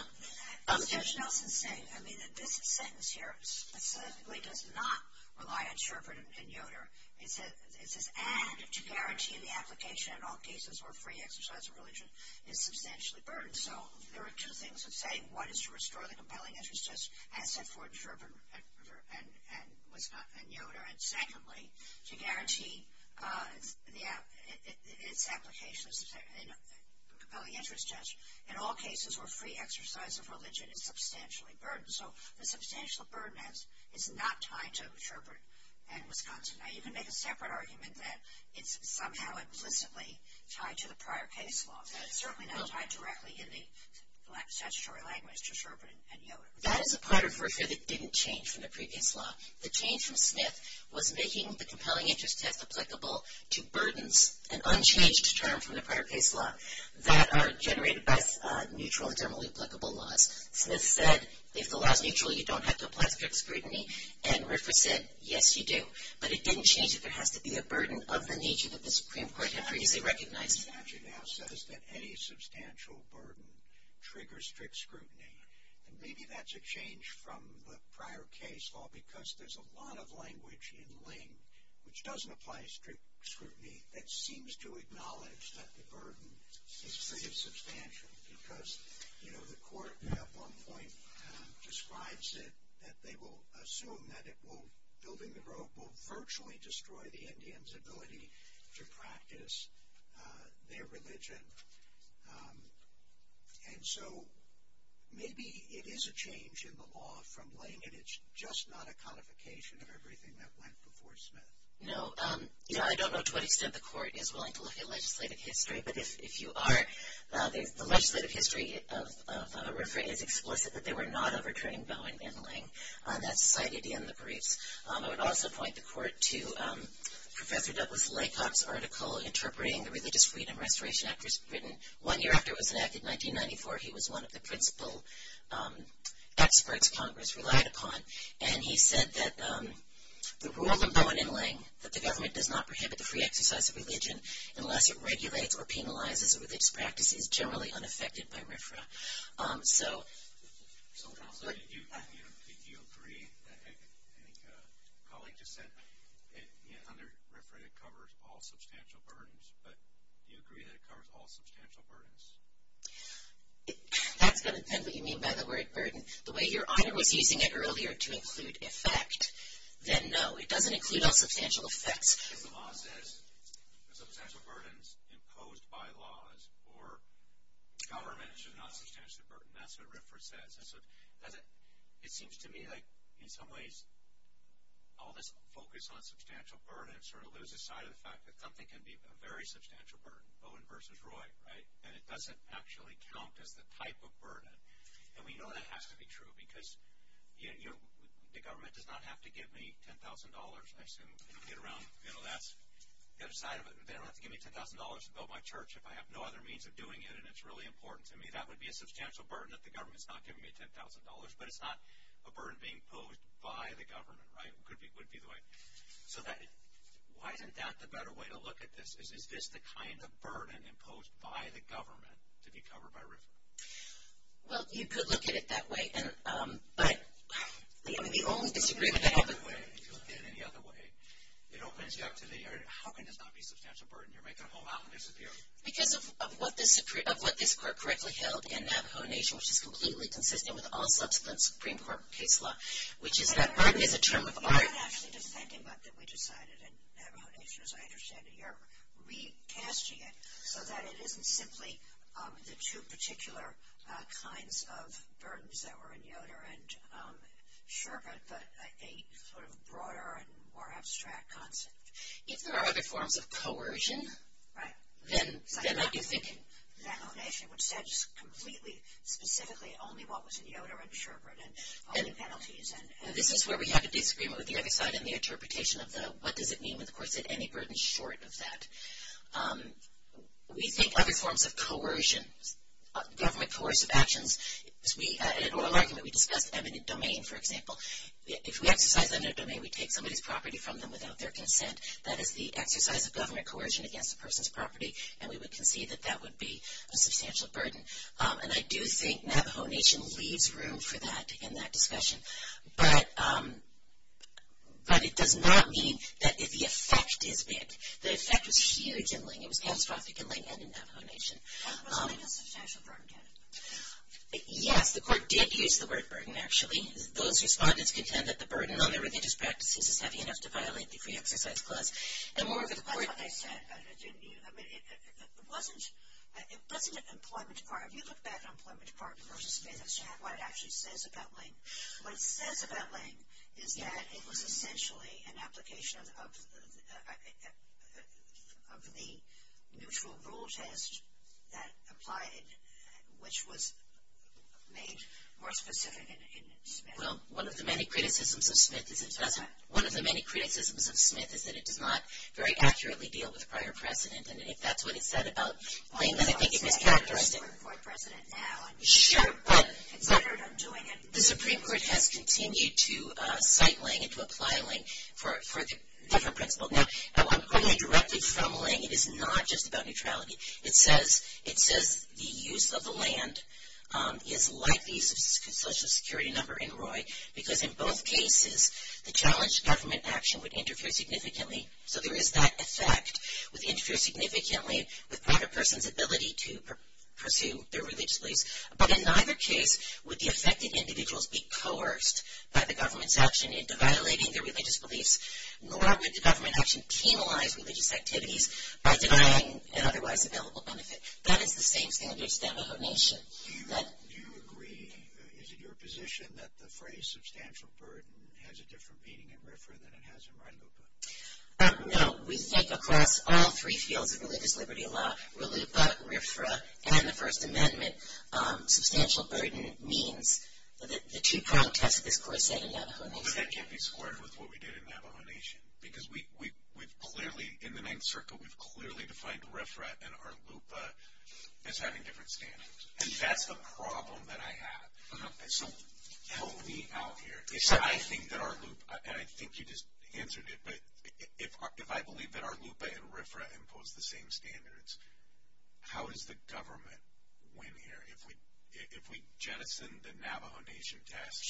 Judge Nelson is saying, I mean, this sentence here statistically does not rely on Scherber in Yoder. It's an act to guarantee the application in all cases where free exercise of religion is substantially burdened. So there are two things it's saying. One is to restore the compelling interest test as set for Scherber and Yoder. And secondly, to guarantee its application as a compelling interest test in all cases where free exercise of religion is substantially burdened. So the substantial burden test is not tied to Scherber and Wisconsin. You can make a separate argument that it's somehow implicitly tied to the prior case law, but it's certainly not tied directly to the statutory language to Scherber and Yoder. That is a part of the reason it didn't change from the previous law. The change from Smith was making the compelling interest test applicable to burdens, an unchanged term from the prior case law, that are generated by neutral and generally applicable laws. And it said, if the law is neutral, you don't have to apply strict scrutiny. And Ripper said, yes, you do. But it didn't change it. There has to be a burden of the nature of the Supreme Court. They recognize it. It actually now says that any substantial burden triggers strict scrutiny. And maybe that's a change from the prior case law because there's a lot of language in Ling which doesn't apply strict scrutiny that seems to acknowledge that the burden is substantial because, you know, the court at one point describes it, that they will assume that building the road will virtually destroy the Indians' ability to practice their religion. And so maybe it is a change in the law from Ling, and it's just not a codification of everything that went before Smith. No. Yeah, I don't know to what extent the court is willing to look at legislative history, but if you are, the legislative history of Ripper is explicit that they were not overturning Bowen and Ling. That's cited in the brief. I would also point the court to Professor Douglas Laycock's article Interpreting the Religious Freedom Restoration Act, which was written one year after it was enacted in 1994. He was one of the principal experts Congress relied upon. The government does not prohibit the free exercise of religion unless it regulates or penalizes a religious practice that is generally unaffected by RFRA. Do you agree that, as a colleague just said, under RFRA it covers all substantial burdens, but do you agree that it covers all substantial burdens? If that's what you mean by the word burden, the way you're either using it earlier to include a fact, then no. It doesn't include a substantial effect. The law says substantial burdens imposed by laws or governments are not substantial burdens. That's what RFRA says. It seems to me like in some ways all this focus on substantial burdens sort of loses sight of the fact that nothing can be a very substantial burden. Bowen versus Roy, right? And it doesn't actually count as the type of burden. And we know that has to be true because, you know, the government does not have to give me $10,000 and I can get around the middle of that, the other side of it, but they don't have to give me $10,000 to build my church if I have no other means of doing it, and it's really important to me. That would be a substantial burden if the government's not giving me $10,000, but it's not a burden being posed by the government, right? It would be the way. So why isn't that the better way to look at this? Is this the kind of burden imposed by the government to be covered by RFRA? Well, you could look at it that way, but, you know, if you look at it in the other way, it opens you up to the area of how can this not be a substantial burden? You're making a whole lot of mistakes here. Because of what this court correctly held in that foundation, which is completely consistent with all of the Supreme Court case law, which is that RFRA is a term of art actually, and we're just thinking about that we decided, and I understand that you're recasting it so that it isn't simply the two particular kinds of burdens that were in Yoder and Sherbert, but a sort of broader and more abstract concept. If there are other forms of coercion, then I keep thinking that foundation, which says completely specifically only what was in Yoder and Sherbert and all the penalties, and this is where we have to disagree with the other side on the interpretation of what does it mean, and, of course, is any burden short of that? We think other forms of coercion, government coercive actions, as we are likely to discuss evident domain, for example. If we exercise evident domain, we take somebody's property from them without their consent. That is the exercise of government coercion against a person's property, and we would concede that that would be a substantial burden. And I do think Navajo Nation leaves room for that in that discussion, but it does not mean that the effect is big. The effect was huge in Lincoln. It was catastrophic in Lincoln and Navajo Nation. It was a substantial burden. Yes, the court did use the word burden actually. Those respondents contend that the burden on the religious practices is heavy enough to violate the Cree exercise clause. Like I said, it wasn't the employment department. You look back on the employment department versus Smith, what it actually says about Linc. What it says about Linc is that it was essentially an application of the mutual rule test that applied, which was made more specific in Smith. Well, one of the many criticisms of Smith is that it does not very accurately deal with prior precedent, and if that's what it said about Linc, then I think it could characterize it. Sure, but the Supreme Court has continued to cite Linc and to apply Linc for different principles. Now, I'm quoting directly from Linc. It is not just about neutrality. It says the use of the land is likely to be a social security number in Roy, because in both cases the challenged government action would interfere significantly, so there is that effect, would interfere significantly with the person's ability to pursue their religious beliefs. But in neither case would the affected individuals be coerced by the government's action into violating their religious beliefs. Nor would the government action penalize religious activities by denying an otherwise available benefit. That is the same thing as the extent of omission. Do you agree? Is it your position that the phrase substantial burden has a different meaning in RFRA than it has in RILUPA? No. We think across all three fields of religious liberty law, RILUPA, RFRA, and the First Amendment, substantial burden means that the two counts have to be coerced. But that can't be squared with what we did in the elimination. Because we've clearly, in the name circle, we've clearly defined RFRA and RILUPA as having different standards. And that's a problem that I have. So help me out here. I think that RILUPA, and I think you just answered it, but if I believe that RILUPA and RFRA impose the same standards, how does the government win here? If we jettison the Navajo Nation test,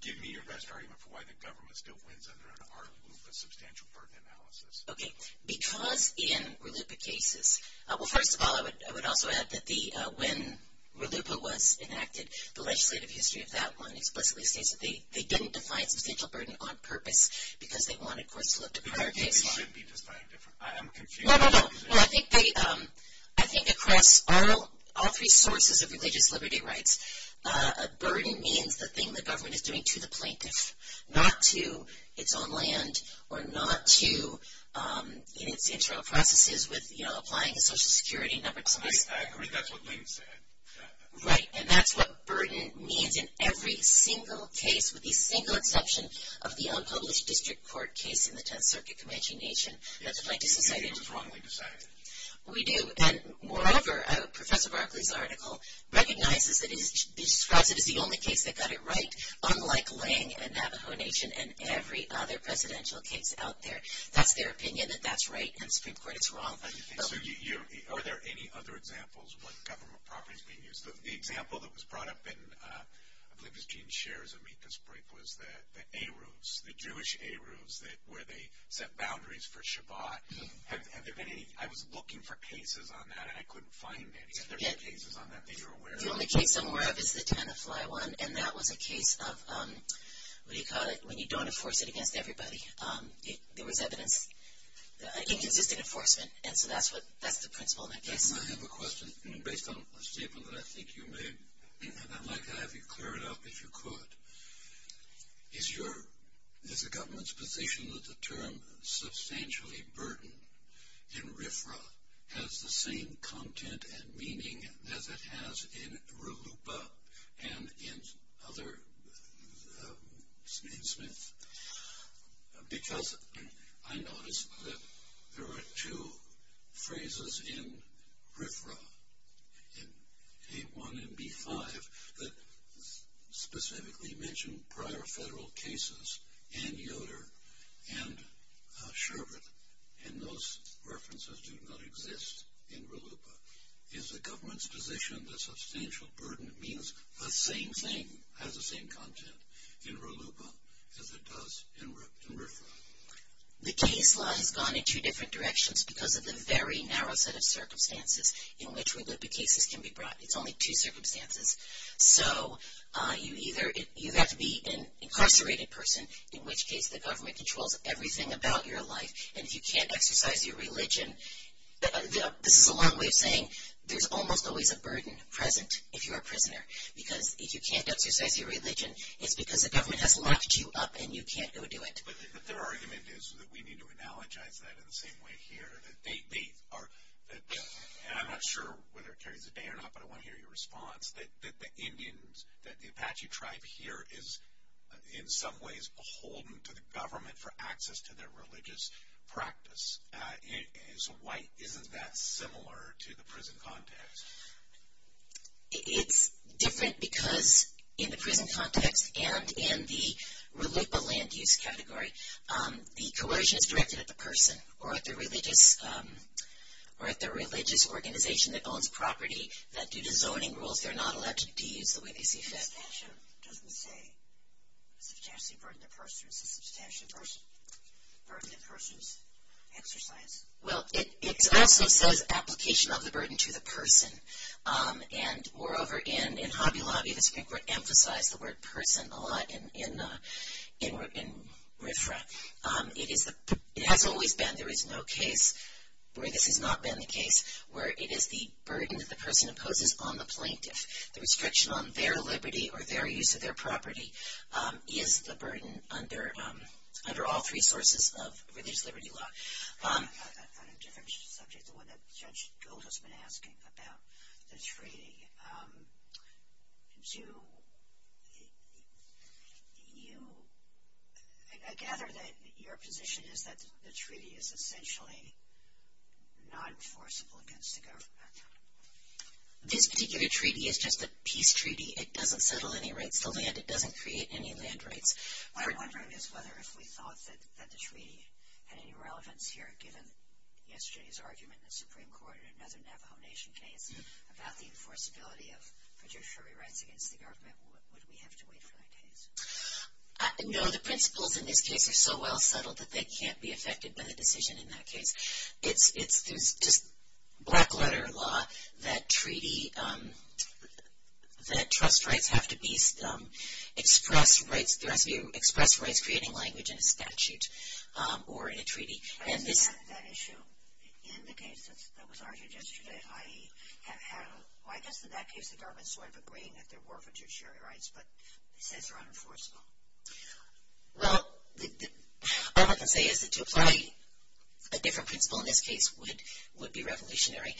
give me a best argument for why the government still wins under an RFRA and RILUPA substantial burden analysis. Okay. Because in RILUPA cases, well, first of all, I would also add that when RILUPA was enacted, the legislative history of that one explicitly states that they didn't define substantial burden on purpose because they wanted courts to look at prior cases. No, no, no. I think across all three sources of religious liberty rights, a burden means the thing the government is doing to the plaintiff, not to its own land or not to internal processes with applying a social security number to them. I agree. That's what means. Right. And that's what burden means in every single case, with the single exception of the unpublished district court case in the 10th Circuit Convention Nation. It was wrongly decided. We do. And, moreover, Professor Barkley's article recognizes that he describes it as the only case that got it right, unlike Lange and Navajo Nation and every other presidential case out there. That's their opinion that that's right. It's wrong. Are there any other examples when government property is being used? The example that was brought up in Liz Jean's shares of me at this point was the A-Rules, the Jewish A-Rules where they set boundaries for Shabbat. Have there been any? I was looking for cases on that, and I couldn't find any. Are there any cases on that that you're aware of? The only case I'm aware of is the Tennessee one, and that was a case of when you don't enforce it against everybody, there was evident inconsistent enforcement, and so that's the principle. I have a question based on a statement that I think you made, and I'd like to have you clear it up if you could. Is the government's position that the term substantially burdened in RFRA has the same content and meaning as it has in RUPA and in other statements? Because I noticed that there are two phrases in RFRA, in A-1 and B-5, that specifically mention prior federal cases in Yoder and Shabbat, and those references do not exist in RUPA. Is the government's position that substantial burden means the same thing, has the same content, in RUPA as it does in RFRA? The case line has gone in two different directions because of the very narrow set of circumstances in which RUPA cases can be brought. There's only two circumstances. So you either have to be an incarcerated person, in which case the government controls everything about your life, and if you can't exercise your religion, this is one way of saying there's almost always a burden present if you're a prisoner, because if you can't exercise your religion, it's because the government has locked you up and you can't go do it. But their argument is that we need to analogize that in the same way here, that they are, and I'm not sure whether it carries a ban or not, but I want to hear your response, that the Indians, that the Apache tribe here is, in some ways, beholden to the government for access to their religious practice. So why isn't that similar to the prison context? It's different because in the prison context and in the RUPA land use category, the coercion is directed at the person or at the religious organization that owns property that, due to zoning rules, they're not allowed to use the way they see fit. That's true. It doesn't say to test the burden of the person. It says to test the burden of the person's exercise. Well, it also says application of the burden to the person, and moreover, in Hobby Lobby, this word emphasizes the word person a lot in reference. It has always been. There is no case where this has not been the case, where it is the burden that the person imposes on the plaintiff. The restriction on their liberty or their use of their property is the burden under all three sources of That's on a different subject than what Judge Gould has been asking about the treaty. I gather that your position is that the treaty is essentially not enforceable against the government. This particular treaty is just a peace treaty. It doesn't settle any rights of land. It doesn't create any land rights. My question is whether we thought that the treaty had any relevance here, given yesterday's argument in the Supreme Court in another nomination case, about the enforceability of judicial rewrites against the government. Would we have to wait for that case? No. The principles in this case are so well settled that they can't be affected by the decision in that case. It's black-letter law that trust rights have to express rights creating language in a statute or in a treaty. I didn't have that issue in the case that was argued yesterday. Why just in that case did the government sort of agree that there were fiduciary rights, but it says they're unenforceable? Well, all I can say is that to apply a different principle in this case would be revolutionary.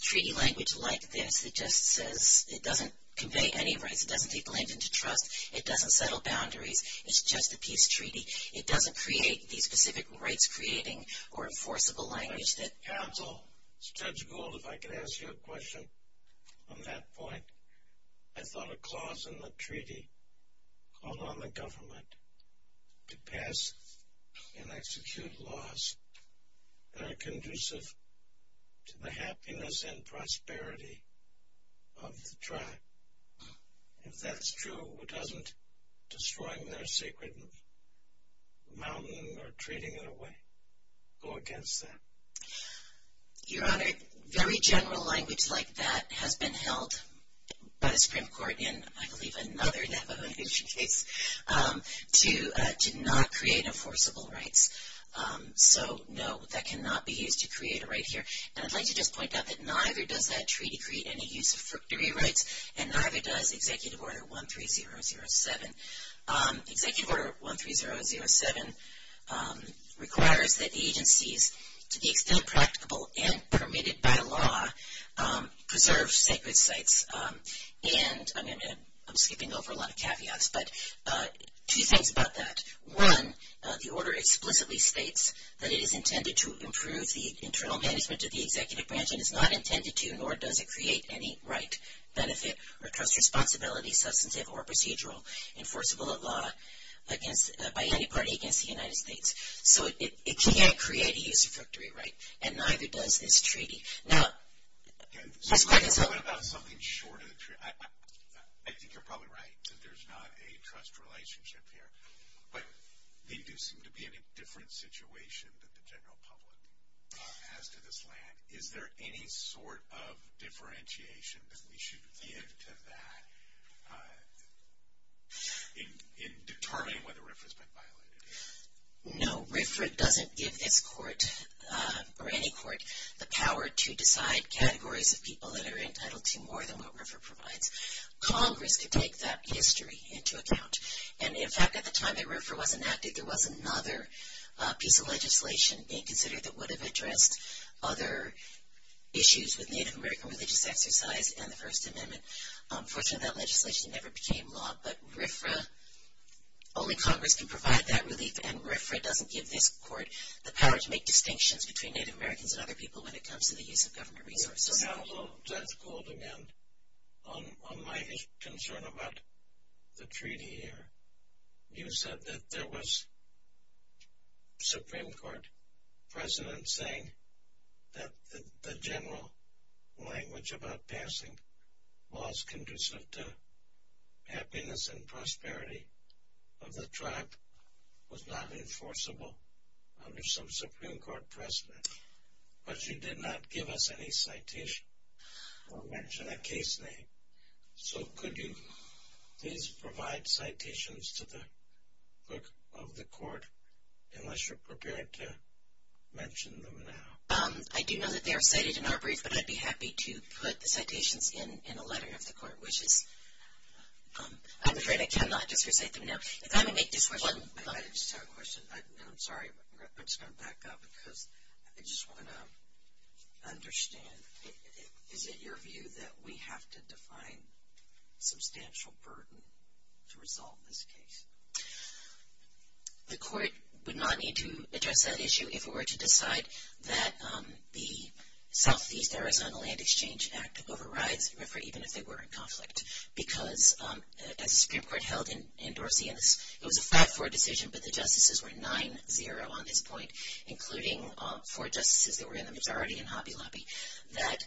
Treaty language like this, it just says it doesn't convey any rights. It doesn't take land into trust. It doesn't settle boundaries. It's just a peace treaty. It doesn't create the specific rights creating or enforceable language that counsel. Judge Gould, if I could ask you a question on that point. I thought a clause in the treaty called on the government to pass and execute laws that are conducive to the happiness and prosperity of the tribe. If that's true, it doesn't destroy their sacred mountain or treaty in a way. Go against that. Your Honor, very general language like that has been held by the Supreme Court in, I believe, another of the negotiation states to not create enforceable rights. So, no, that cannot be used to create a right here. And I'd like to just point out that neither does that treaty create any use of fiduciary rights, and neither does Executive Order 13007. Executive Order 13007 requires that the agencies, to be explicitly practicable and permitted by law, preserve sacred sites. And I'm skipping over a lot of caveats, but two things about that. One, the order explicitly states that it is intended to improve the internal benefits of the executive branch and is not intended to, nor does it create any right, benefit, or responsibility, substantive or procedural, enforceable by law by any party against the United States. So, it can't create a use of fiduciary rights, and neither does this treaty. Now, next question. I have a question about something short of the treaty. I think you're probably right that there's not a trust relationship here, but they do seem to be in a different situation than the general public has to this land. Is there any sort of differentiation that we should give to that in determining whether RFRA has been violated? No. RFRA doesn't give its court, or any court, the power to decide categories of people that are entitled to more than what RFRA provides. Congress did take that history into account. And, in fact, at the time that RFRA was enacted, there was another piece of legislation being considered that would have addressed other issues with Native American religious exercise and the First Amendment. Unfortunately, that legislation never became law, but RFRA, only Congress can provide that relief, and RFRA doesn't give its court the power to make distinctions between Native Americans and other people when it comes to the use of government resources. Mr. Haslund, that's cool to me. On my concern about the treaty here, you said that there was Supreme Court precedent saying that the general language about passing laws conducive to happiness and prosperity of the tribe was not enforceable under some Supreme Court precedent. But you did not give us any citation or mention a case name. So could you please provide citations to the clerk of the court, unless you're prepared to mention them now? I do know that they are cited in our brief, but I'd be happy to put the citations in the letter of the court. I'm afraid I cannot, because I don't know. I just have a question. I'm sorry, but I'm just going to back up, because I just want to understand. Is it your view that we have to define substantial burden to resolve this case? The court would not need to address that issue if it were to decide that the Southeast Arizona Land Exchange Act overrides the record, even if they were in conflict, because as the Supreme Court held and endorsed the fact for a decision that the justices were 9-0 on this point, including four justices that were in the majority in Hoppy Loppy, that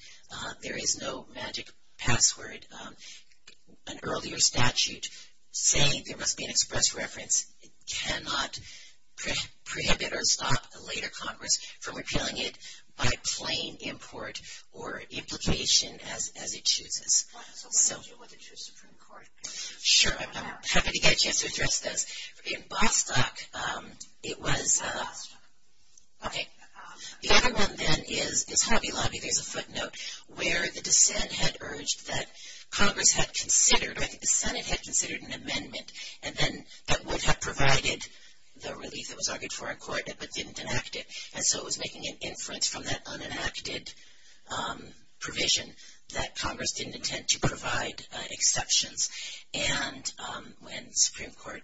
there is no magic password. An earlier statute saying there must be an express reference cannot preempt it and would stop a later Congress from repealing it by plain import or implication as it chooses. I don't know if it was introduced in the Supreme Court. Sure. I'm happy to get a chance to address those. In Bostock, it was – okay. The other one then is the Hoppy Loppy. They have a footnote where the dissent had urged that Congress had considered, or the dissent had considered an amendment, and then that would have provided the relief that was argued for in court, but didn't enact it. And so it was making an influence from that unenacted provision that Congress didn't intend to provide exceptions. And when the Supreme Court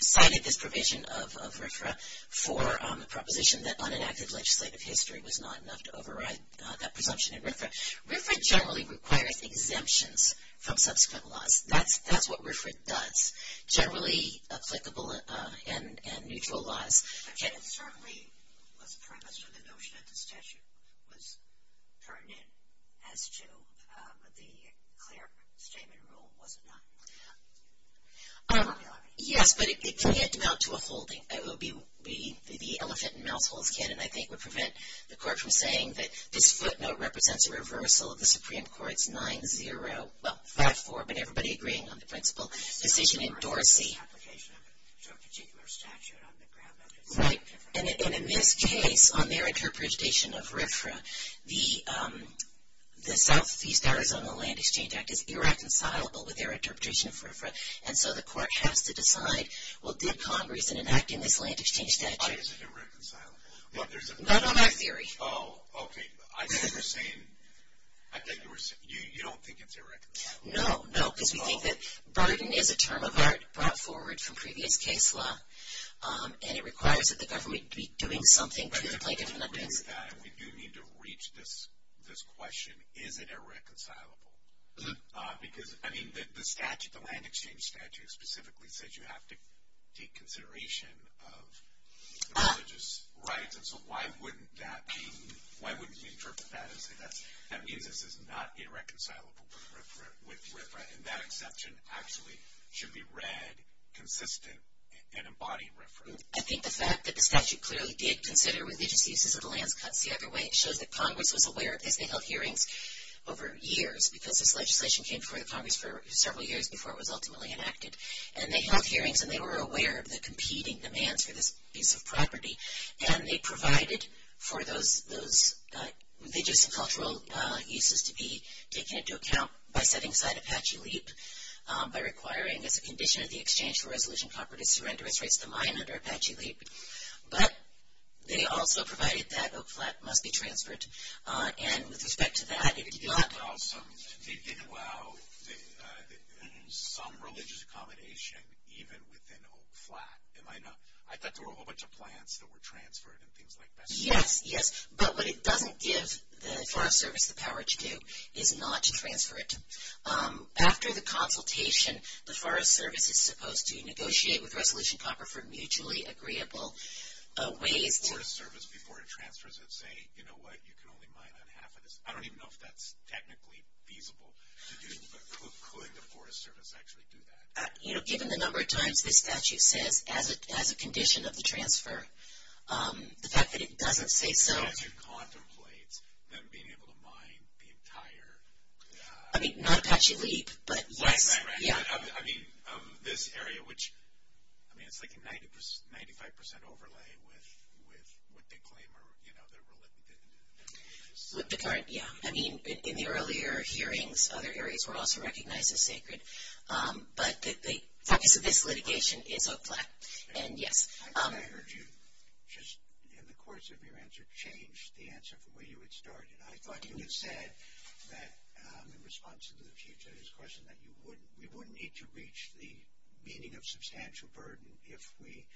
cited this provision of RFRA for the proposition that unenacted legislative history was not enough to override that presumption in RFRA, RFRA generally requires exemptions from subsequent laws. That's what RFRA does, generally applicable and neutral laws. Okay. It certainly was premised on the notion that the statute was pertinent as to the clear statement rule was not enough. Yes, but it can't amount to a full thing. It would be the elephant in the mouthful of a kid, and I think would prevent the Court from saying that this footnote represents a reversal of the Supreme Court's 9-0. Well, fast forward, but everybody agreeing on the principle. The decision endorses the particular statute on the ground. Right. And in this case, on their interpretation of RFRA, the Southeast Arizona Land Exchange Act is irreconcilable with their interpretation of RFRA, and so the Court has to decide, well, give Congress an enacting this land exchange statute. I guess it's irreconcilable. That's not our theory. Oh, okay. I think you're saying you don't think it's irreconcilable. No, no. Because we think that burden is a term of art brought forward from previous case law, and it requires that the government be doing something about it. We do need to reach this question, is it irreconcilable? Because, I mean, the statute, the land exchange statute, specifically says you have to take consideration of religious rights, and so why wouldn't that be, why wouldn't they interpret that as saying, I mean, this is not irreconcilable with RFRA, and that exception actually should be read consistent in embodying RFRA? I think the fact that the statute clearly did consider religious uses of the land cuts the other way shows that Congress was aware of it. They held hearings over years because this legislation came before Congress for several years before it was ultimately enacted. And they held hearings, and they were aware of the competing demands for the use of property, and they provided for those religious and cultural uses to be taken into account by setting aside Apache Leap, by requiring that the condition of the exchange for resolution property to render its rights to mine under Apache Leap. But they also provided that Oak Flat must be transferred. And with respect to that, it did not. They didn't allow some religious accommodation even within Oak Flat. I thought there were a whole bunch of plans that were transferred and things like that. Yes, yes, but what it doesn't give the Forest Service the power to do is not to transfer it. After the consultation, the Forest Service is supposed to negotiate with Resolution Copper for a mutually agreeable way. The Forest Service, before it transfers it, say, you know what, you can only mine on half of this. I don't even know if that's technically feasible to do, but could the Forest Service actually do that? You know, given the number of times the statute said as a condition of the transfer, the fact that it doesn't say so. Can you contemplate them being able to mine the entire? I mean, not Apache Leap, but yes. Right, right, right. I mean, of this area, which, I mean, it's like a 95% overlay with the claim, you know, that we're looking at. With the current, yes. I mean, in the earlier hearings, other areas were also recognized as sacred. But the practice of this litigation is a black. And, yes. I heard you just, in the course of your answer, change the answer from where you had started. I thought you had said that in response to the chief's question, that you wouldn't need to reach the meaning of substantial burden if we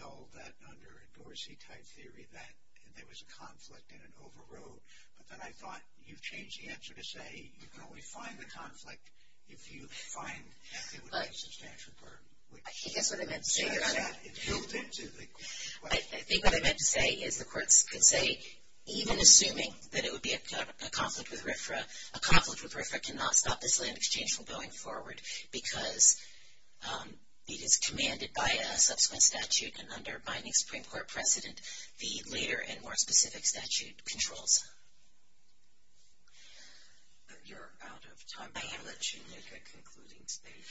held that under a Dorsey type theory, that there was a conflict and an overroad. But then I thought you changed the answer to say you can only find the conflict if you find that there was a substantial burden. I think that's what I meant to say. I think what I meant to say is the court could say, even assuming that it would be a conflict with RFRA, a conflict with RFRA cannot stop this land exchange from going forward because it is commanded by a subsequent statute and under a binding Supreme Court precedent, the later and more specific statute controls it. You're out of time. I have a terrific concluding statement.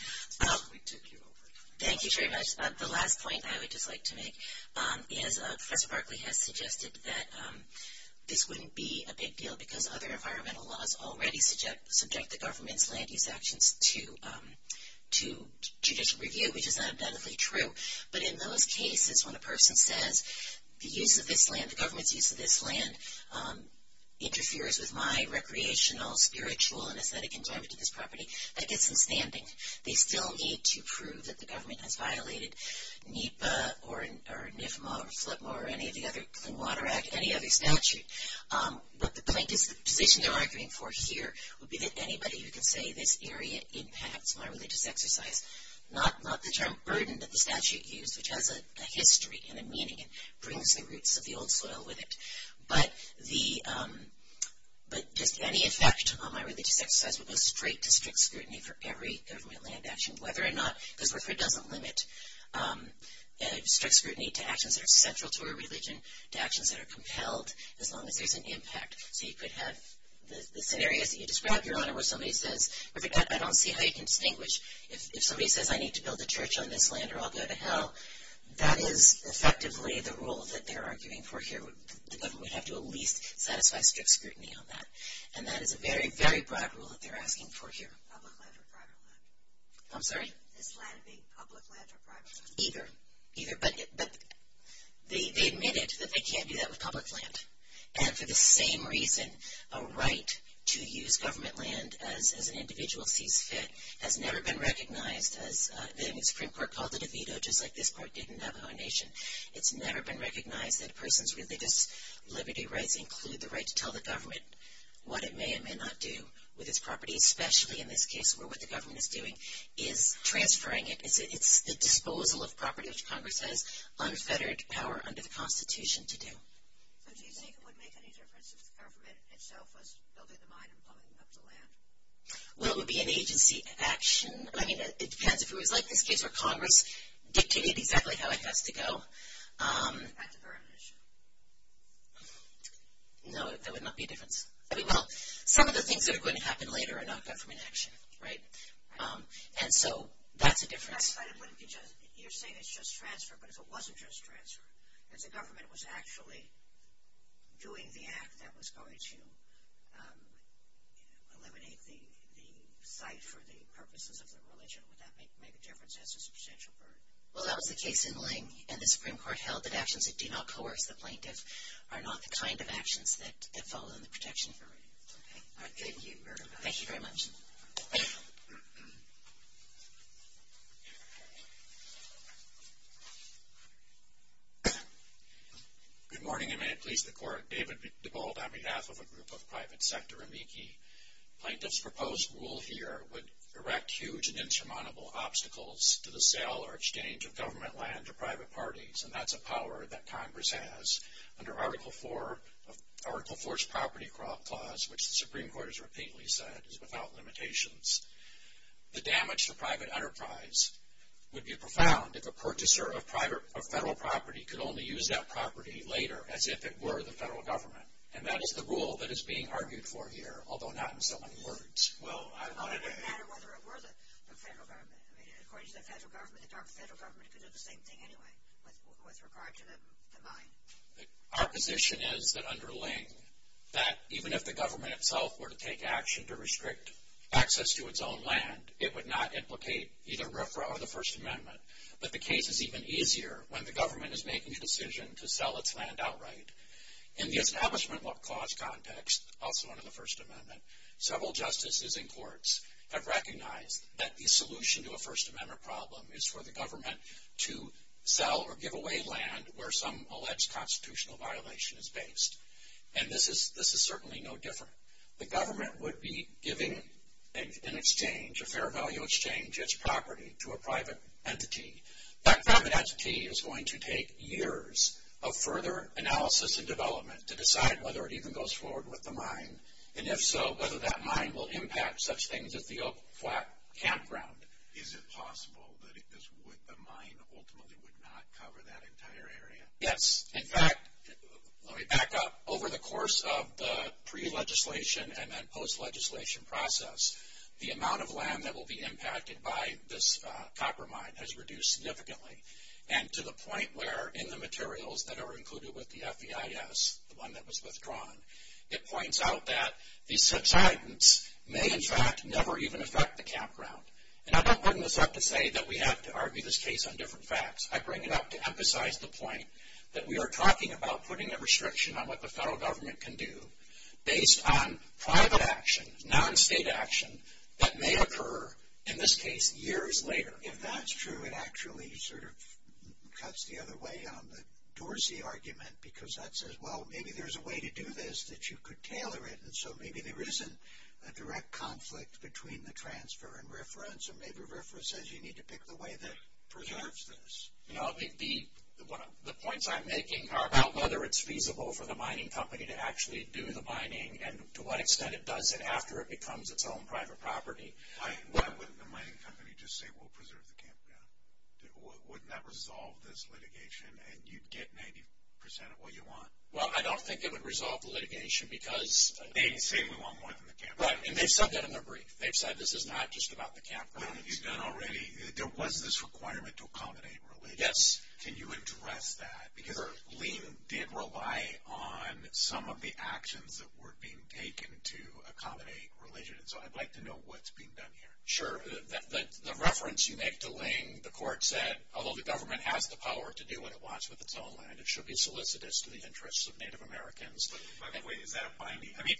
Thank you very much. The last point I would just like to make is Professor Barkley has suggested that this wouldn't be a big deal because other environmental laws already subject the government's land use actions to judicial review, which is undoubtedly true. But in those cases when a person says the use of this land, the government's use of this land interferes with my recreational, spiritual, and aesthetic enjoyment of this property, that gets them standing. They still need to prove that the government has violated NEPA or NIFMA or FLIPMA or any of the other Clean Water Act, any of the other statutes. But the main decision that we're arguing for here would be that anybody who can say this area impacts my religious exercise, not the term burden that the statute used, which has a history and a meaning. It brings the roots of the old soil with it. But just any effect on my religious exercise would look straight to strict scrutiny for every third-way land action, whether or not there's a predominant limit, strict scrutiny to actions that are central to our religion, to actions that are compelled, as long as there's an impact. So you could have the scenario that you described, Your Honor, where somebody says, look at that, I don't see how you can distinguish if somebody says I need to build a church on this land or I'll go to hell. That is effectively the rule that they're arguing for here. The government would have to at least satisfy strict scrutiny on that. And that is a very, very broad rule that they're asking for here. Public land or private land? I'm sorry? It's either public land or private land. Either. But they admit it, that they can't do that with public land. And for the same reason, a right to use government land as an individual sees fit has never been recognized as being a Supreme Court-positive veto, just like this Court did in Navajo Nation. It's never been recognized that a person's religious liberty rights include the right to tell the government what it may or may not do with its property, especially in this case where what the government is doing is transferring it. It's disposal of property, as Congress says, under federal power under the Constitution to do. So do you think it would make any difference if government itself was building the mine and plumbing up the land? Well, it would be an agency action. I mean, it depends if it was like the case where Congress dictated exactly how it has to go. That's a different issue. No, that would not be different. I mean, well, some of the things that are going to happen later are not government actions, right? And so that's a different aspect. You're saying it's just transfer, but if it wasn't just transfer, if the government was actually doing the act that was going to eliminate the site for the purposes of the religion, would that make a difference as a substantial burden? Well, that was the case in Ling, and the Supreme Court held that actions that do not coerce the plaintiff are not the kind of actions that have fallen under the protection of the plaintiff. Thank you very much. Thank you. Good morning, and may it please the Court. David DeVold on behalf of a group of private sector amici. Plaintiff's proposed rule here would erect huge and insurmountable obstacles to the sale or exchange of government land to private parties, and that's a power that Congress has. Under Article IV's property clause, which the Supreme Court has repeatedly said is without limitations, the damage to private enterprise would be profound if a purchaser of federal property could only use that property later as if it were the federal government, and that is the rule that is being argued for here, although not in so many words. It doesn't matter whether it were the federal government. According to the federal government, the federal government could do the same thing anyway, with regard to the mine. Our position is that under Ling, that even if the government itself were to take action to restrict access to its own land, it would not implicate either RCRA or the First Amendment. But the case is even easier when the government is making a decision to sell its land outright. In the establishment law clause context, also under the First Amendment, several justices in courts have recognized that the solution to a First Amendment problem is for the government to sell or give away land where some alleged constitutional violation is based, and this is certainly no different. The government would be giving an exchange, a fair value exchange, its property to a private entity. That private entity is going to take years of further analysis and development to decide whether it even goes forward with the mine, and if so, whether that mine will impact such things as the open flat campground. Is it possible that the mine ultimately would not cover that entire area? Yes. In fact, let me back up. Over the course of the pre-legislation and then post-legislation process, the amount of land that will be impacted by this copper mine has reduced significantly, and to the point where in the materials that are included with the FEIS, the one that was withdrawn, it points out that the subsidence may, in fact, never even affect the campground. And I'm not putting this up to say that we have to argue this case on different facts. I bring it up to emphasize the point that we are talking about putting a restriction on what the federal government can do based on private action, non-state action, that may occur in this case years later. If that's true, it actually sort of cuts the other way on the Dorsey argument, because that says, well, maybe there's a way to do this that you could tailor it, and so maybe there isn't a direct conflict between the transfer and reference, and maybe reference says you need to pick the way that preserves this. The points I'm making are about whether it's feasible for the mining company to actually do the mining and to what extent it does it after it becomes its own private property. Why wouldn't the mining company just say, well, preserve the campground? Wouldn't that resolve this litigation, and you'd get 90% of what you want? Well, I don't think it would resolve the litigation because they've said this is not just about the campground. There wasn't this requirement to accommodate religion. Can you address that? Because LEAN did rely on some of the actions that were being taken to accommodate religion, so I'd like to know what's being done here. Sure. The reference you make to LEAN, the court said, although the government has the power to do what it wants with its own land, it should be solicitous to the interests of Native Americans. By the way, is that a fine? I mean,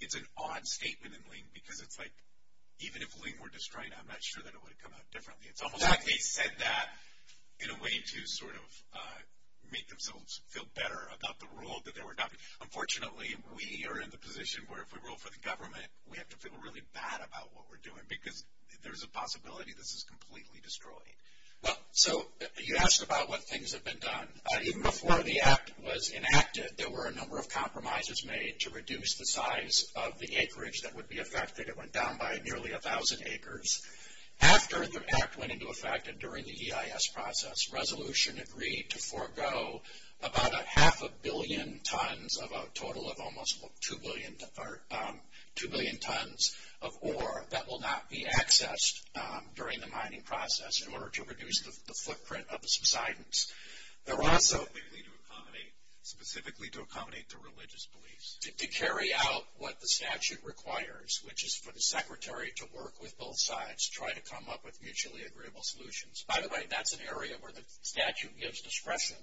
it's an odd statement in LEAN because it's like even if LEAN were destroyed, I'm not sure that it would have come out differently. It's almost like they said that in a way to sort of make themselves feel better about the rule that they were done. Unfortunately, we are in the position where if we roll for the government, we have to feel really bad about what we're doing because there's a possibility this is completely destroyed. Well, so you asked about what things have been done. Even before the Act was enacted, there were a number of compromises made to reduce the size of the acreage that would be affected. It went down by nearly 1,000 acres. After the Act went into effect and during the EIS process, this resolution agreed to forego about a half a billion tons, a total of almost 2 billion tons of ore that will not be accessed during the mining process in order to reduce the footprint of the subsidence. There was a way specifically to accommodate the religious beliefs, to carry out what the statute requires, which is for the secretary to work with both sides, try to come up with mutually agreeable solutions. By the way, that's an area where the statute gives discretion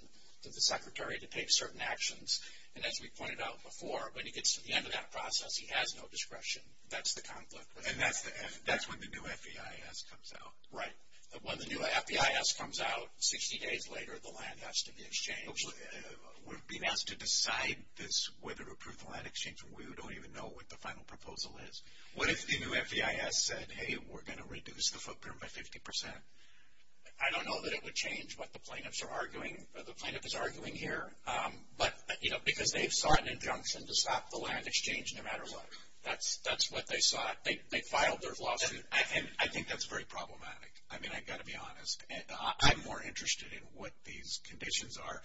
to the secretary to take certain actions. And as we pointed out before, when he gets to the end of that process, he has no discretion. That's the conflict. And that's when the new FEIS comes out. Right. When the new FEIS comes out, 60 days later, the land has to be exchanged. We're being asked to decide whether to approve the land exchange, and we don't even know what the final proposal is. What if the new FEIS said, hey, we're going to reduce the footprint by 50%? I don't know that it would change what the plaintiffs are arguing here. But, you know, because they've sought an injunction to stop the land exchange no matter what. That's what they sought. They filed their law. And I think that's very problematic. I mean, I've got to be honest. I'm more interested in what these conditions are,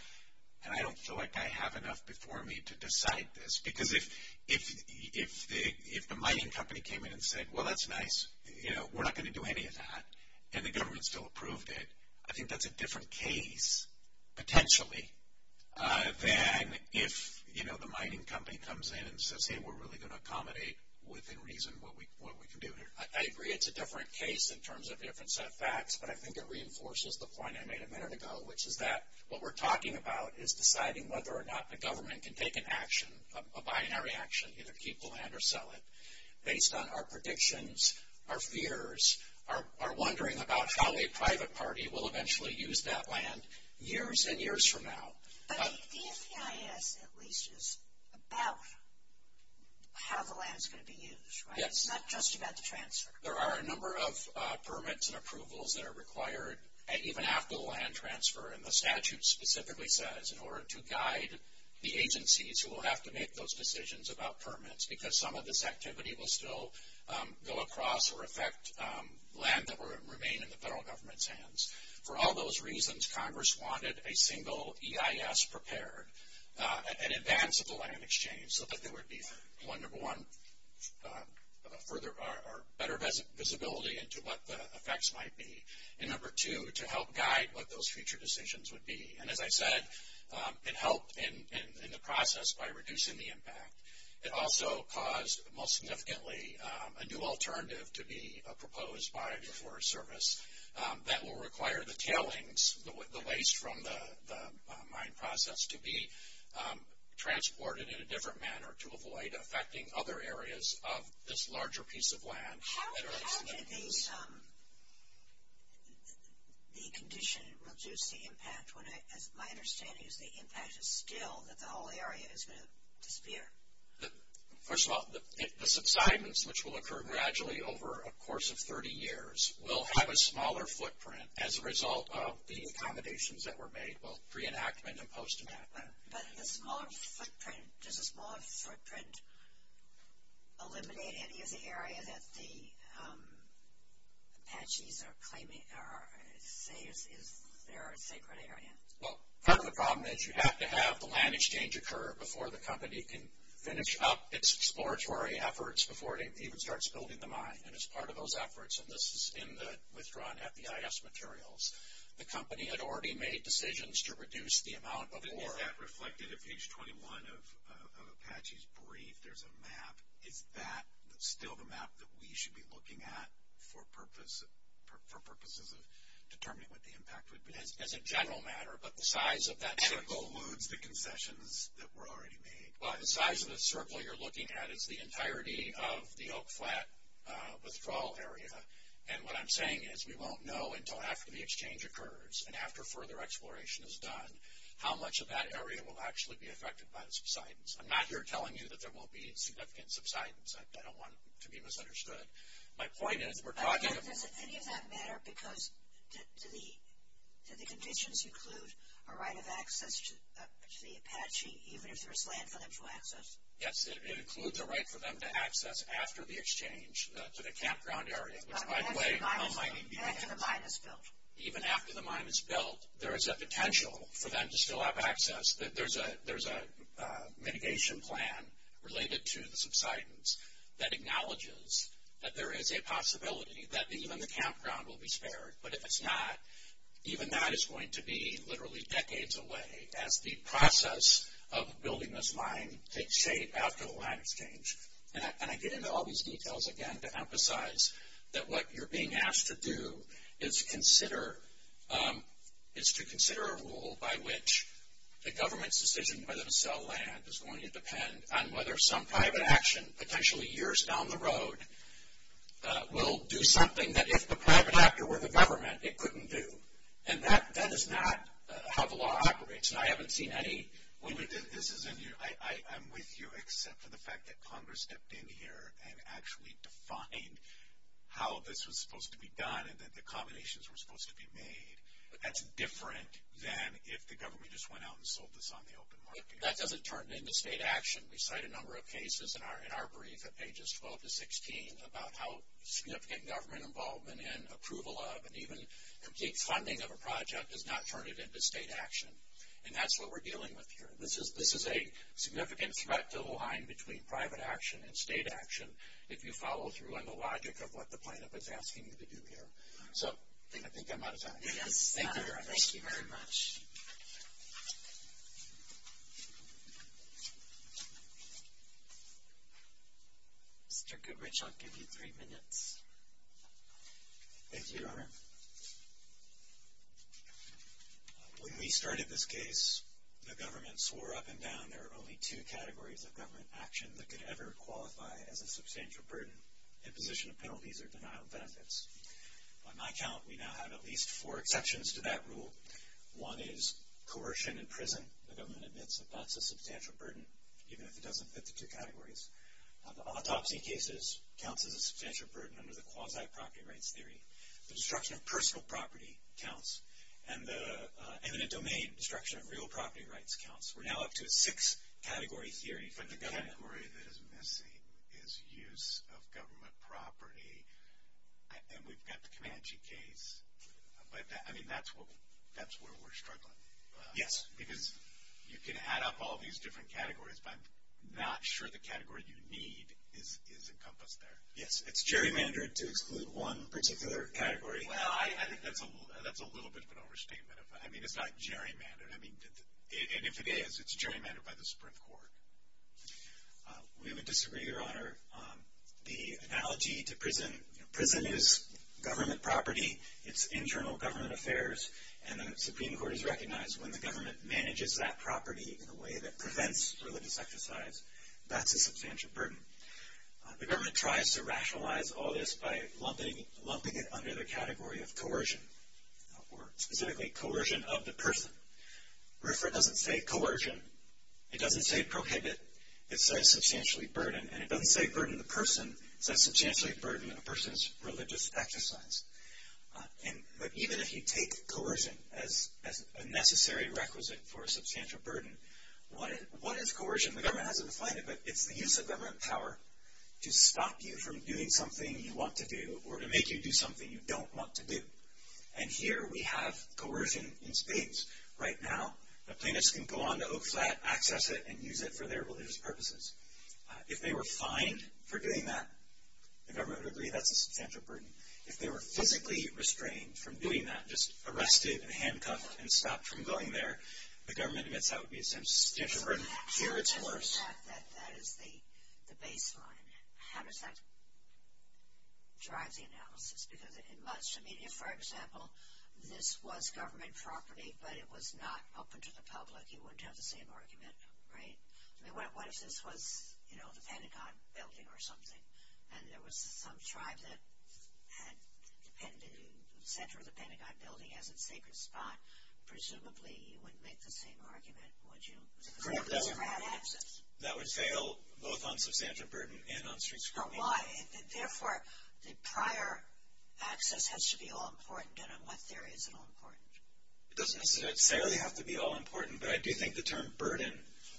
and I don't feel like I have enough before me to decide this. Because if the mining company came in and said, well, that's nice, you know, we're not going to do any of that, and the government still approved it, I think that's a different case, potentially, than if, you know, the mining company comes in and says, hey, we're really going to accommodate within reason what we can do here. I agree it's a different case in terms of different set of facts, but I think it reinforces the point I made a minute ago, which is that what we're talking about is deciding whether or not the government can take an action, a binary action, either keep the land or sell it. Based on our predictions, our fears, our wondering about how a private party will eventually use that land years and years from now. But the ACIS, at least, is about how the land is going to be used, right? Yes. It's not just about the transfer. There are a number of permits and approvals that are required even after the land transfer, and the statute specifically says in order to guide the agencies who will have to make those decisions about permits because some of this activity will still go across or affect land that will remain in the federal government's hands. For all those reasons, Congress wanted a single EIS prepared in advance of the land exchange so that there would be, number one, better visibility into what the effects might be, and number two, to help guide what those future decisions would be. And as I said, it helped in the process by reducing the impact. It also caused, most significantly, a new alternative to be proposed by the Forest Service that will require the tailings, the waste from the mine process, to be transported in a different manner to avoid affecting other areas of this larger piece of land. How does the condition reduce the impact when, as my understanding is, the impact is still that the whole area is going to disappear? First of all, the subsidence, which will occur gradually over a course of 30 years, will have a smaller footprint as a result of the accommodations that were made, both pre-enactment and post-enactment. But does a small footprint eliminate any of the area that the patches are claiming, or say they're a sacred area? Well, part of the problem is you have to have the land exchange occur before the company can finish up its exploratory efforts before it even starts building the mine. And as part of those efforts, and this is in the withdrawn FDIS materials, the company had already made decisions to reduce the amount of ore. That reflected at page 21 of Apache's brief. There's a map. Is that still the map that we should be looking at for purposes of determining what the impact would be? It's a general matter, but the size of that circle eludes the concessions that were already made. The size of the circle you're looking at is the entirety of the Oak Flat withdrawal area. And what I'm saying is we won't know until after the exchange occurs and after further exploration is done how much of that area will actually be affected by the subsidence. I'm not here telling you that there won't be a significant subsidence. I don't want to be misunderstood. My point is we're talking about – Does any of that matter? Because do the conditions include a right of access to the Apache, even if there's land for them to access? Yes, it includes a right for them to access after the exchange to the campground area. Even after the mine is built, there is a potential for them to still have access. There's a mitigation plan related to the subsidence that acknowledges that there is a possibility that even the campground will be spared. But if it's not, even that is going to be literally decades away. As the process of building this mine takes shape after the land exchange. And I get into all these details, again, to emphasize that what you're being asked to do is to consider a rule by which the government's decision whether to sell land is going to depend on whether some private action, potentially years down the road, will do something that if the private actor were the government, it couldn't do. And that is not how the law operates. And I haven't seen any – I'm with you except for the fact that Congress stepped in here and actually defined how this was supposed to be done and that the combinations were supposed to be made. But that's different than if the government just went out and sold this on the open market. That doesn't turn into state action. We cite a number of cases in our brief at pages 12 to 16 about how significant government involvement and approval of and even complete funding of a project does not turn it into state action. And that's what we're dealing with here. This is a significant threat to the line between private action and state action if you follow through on the logic of what the plaintiff is asking you to do here. So I think I'm out of time. Thank you very much. Thank you very much. I'll give you three minutes. Thank you, Your Honor. When we started this case, the government swore up and down there are only two categories of government action that could ever qualify as a substantial burden, imposition of penalties or denial of benefits. On my count, we now have at least four exceptions to that rule. One is coercion in prison. The government admits that that's a substantial burden even if it doesn't fit the two categories. Adopting cases counts as a substantial burden under the quasi-property rights theory. The destruction of personal property counts. And the eminent domain destruction of real property rights counts. We're now up to a six-category theory from the government. One category that is missing is use of government property. And we've got the Comanche case. I mean, that's where we're struggling. Yes, because you can add up all these different categories, but I'm not sure the category you need is encompassed there. Yes, it's gerrymandered to exclude one particular category. Well, I think that's a little bit of an overstatement. I mean, it's not gerrymandered. And if it is, it's gerrymandered by the Supreme Court. We would disagree, Your Honor. The analogy to prison is government property. It's internal government affairs. And the Supreme Court has recognized when the government manages that property in a way that prevents religious exercise, that's a substantial burden. The government tries to rationalize all this by lumping it under the category of coercion, specifically coercion of the person. Referent doesn't say coercion. It doesn't say prohibit. It says substantially burden. And it doesn't say burden of the person. It says substantially burden of a person's religious exercise. And even if you take coercion as a necessary requisite for a substantial burden, what is coercion? The government hasn't defined it, but it's the use of government power to stop you from doing something you want to do or to make you do something you don't want to do. And here we have coercion in spades. Right now the plaintiffs can go on to Oak Flat, access it, and use it for their religious purposes. If they were fined for doing that, the government would agree that's a substantial burden. If they were physically restrained from doing that, just arrested and handcuffed and stopped from going there, the government admits that would be a substantial burden. Here it's worse. That is the baseline. And how does that drive the analysis? Because in much media, for example, this was government property, but it was not open to the public. You wouldn't have the same argument, right? What if this was, you know, the Pentagon building or something, and there was some tribe that had the center of the Pentagon building as its favorite spot? Presumably you wouldn't make the same argument, would you? Correct. That would fail both on substantial burden and on streets. Why? Therefore, the prior access has to be all-important, and unless there is an all-important. It doesn't necessarily have to be all-important, but I do think the term burden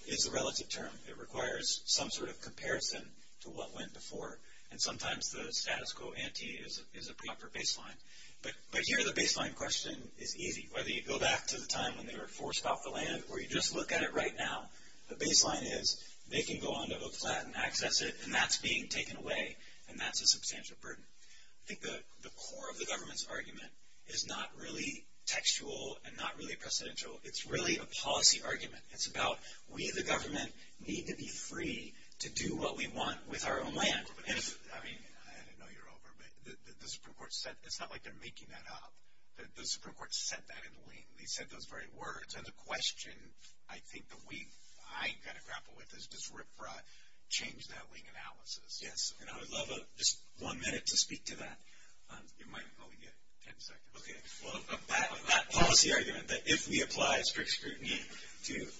is a relative term. It requires some sort of comparison to what went before. And sometimes the status quo ante is the proper baseline. But here the baseline question is easy. Whether you go back to the time when they were forced off the land or you just look at it right now, the baseline is they can go onto the flat and access it, and that's being taken away, and that's a substantial burden. I think the core of the government's argument is not really textual and not really presidential. It's really a policy argument. It's about we, the government, need to be free to do what we want with our own land. I didn't know you were over, but the Supreme Court said it's not like they're making that up. The Supreme Court said that in the link. They said those very words. And the question, I think, that I kind of grapple with is does RFRA change that link analysis? Yes. And I would love just one minute to speak to that. You might only get ten seconds. Okay. Well, that policy argument that if we apply strict scrutiny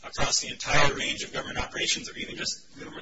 across the entire range of government operations or even just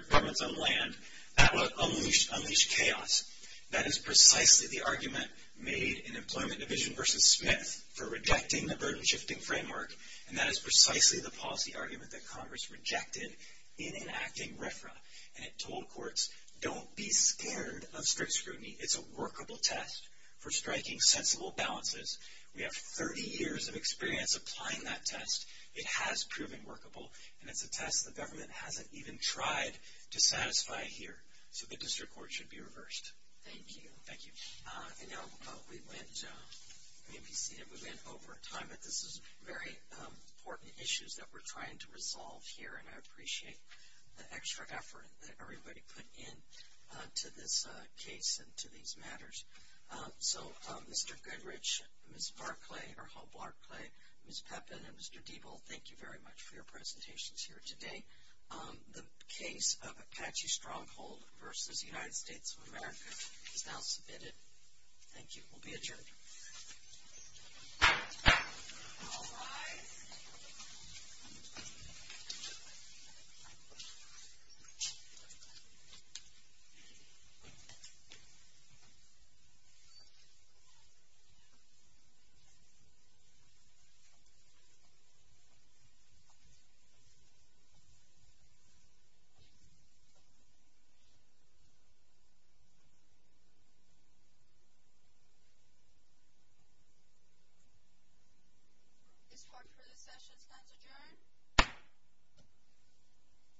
government on land, that would unleash chaos. That is precisely the argument made in Employment Division v. Smith for rejecting the burden-shifting framework, and that is precisely the policy argument that Congress rejected in enacting RFRA, and it told courts don't be scared of strict scrutiny. It's a workable test for striking sensible balances. We have 30 years of experience applying that test. It has proven workable, and it's a test the government hasn't even tried to satisfy here. So the district court should be reversed. Thank you. Thank you. And now we land over time, but this is very important issues that we're trying to resolve here, and I appreciate the extra effort that everybody put in to this case and to these matters. So Mr. Goodrich, Ms. Barclay, or Hope Barclay, Ms. Peppin, and Mr. Diebel, thank you very much for your presentations here today. The case of Apache Stronghold v. United States of America is now submitted. Thank you. We'll be adjourned.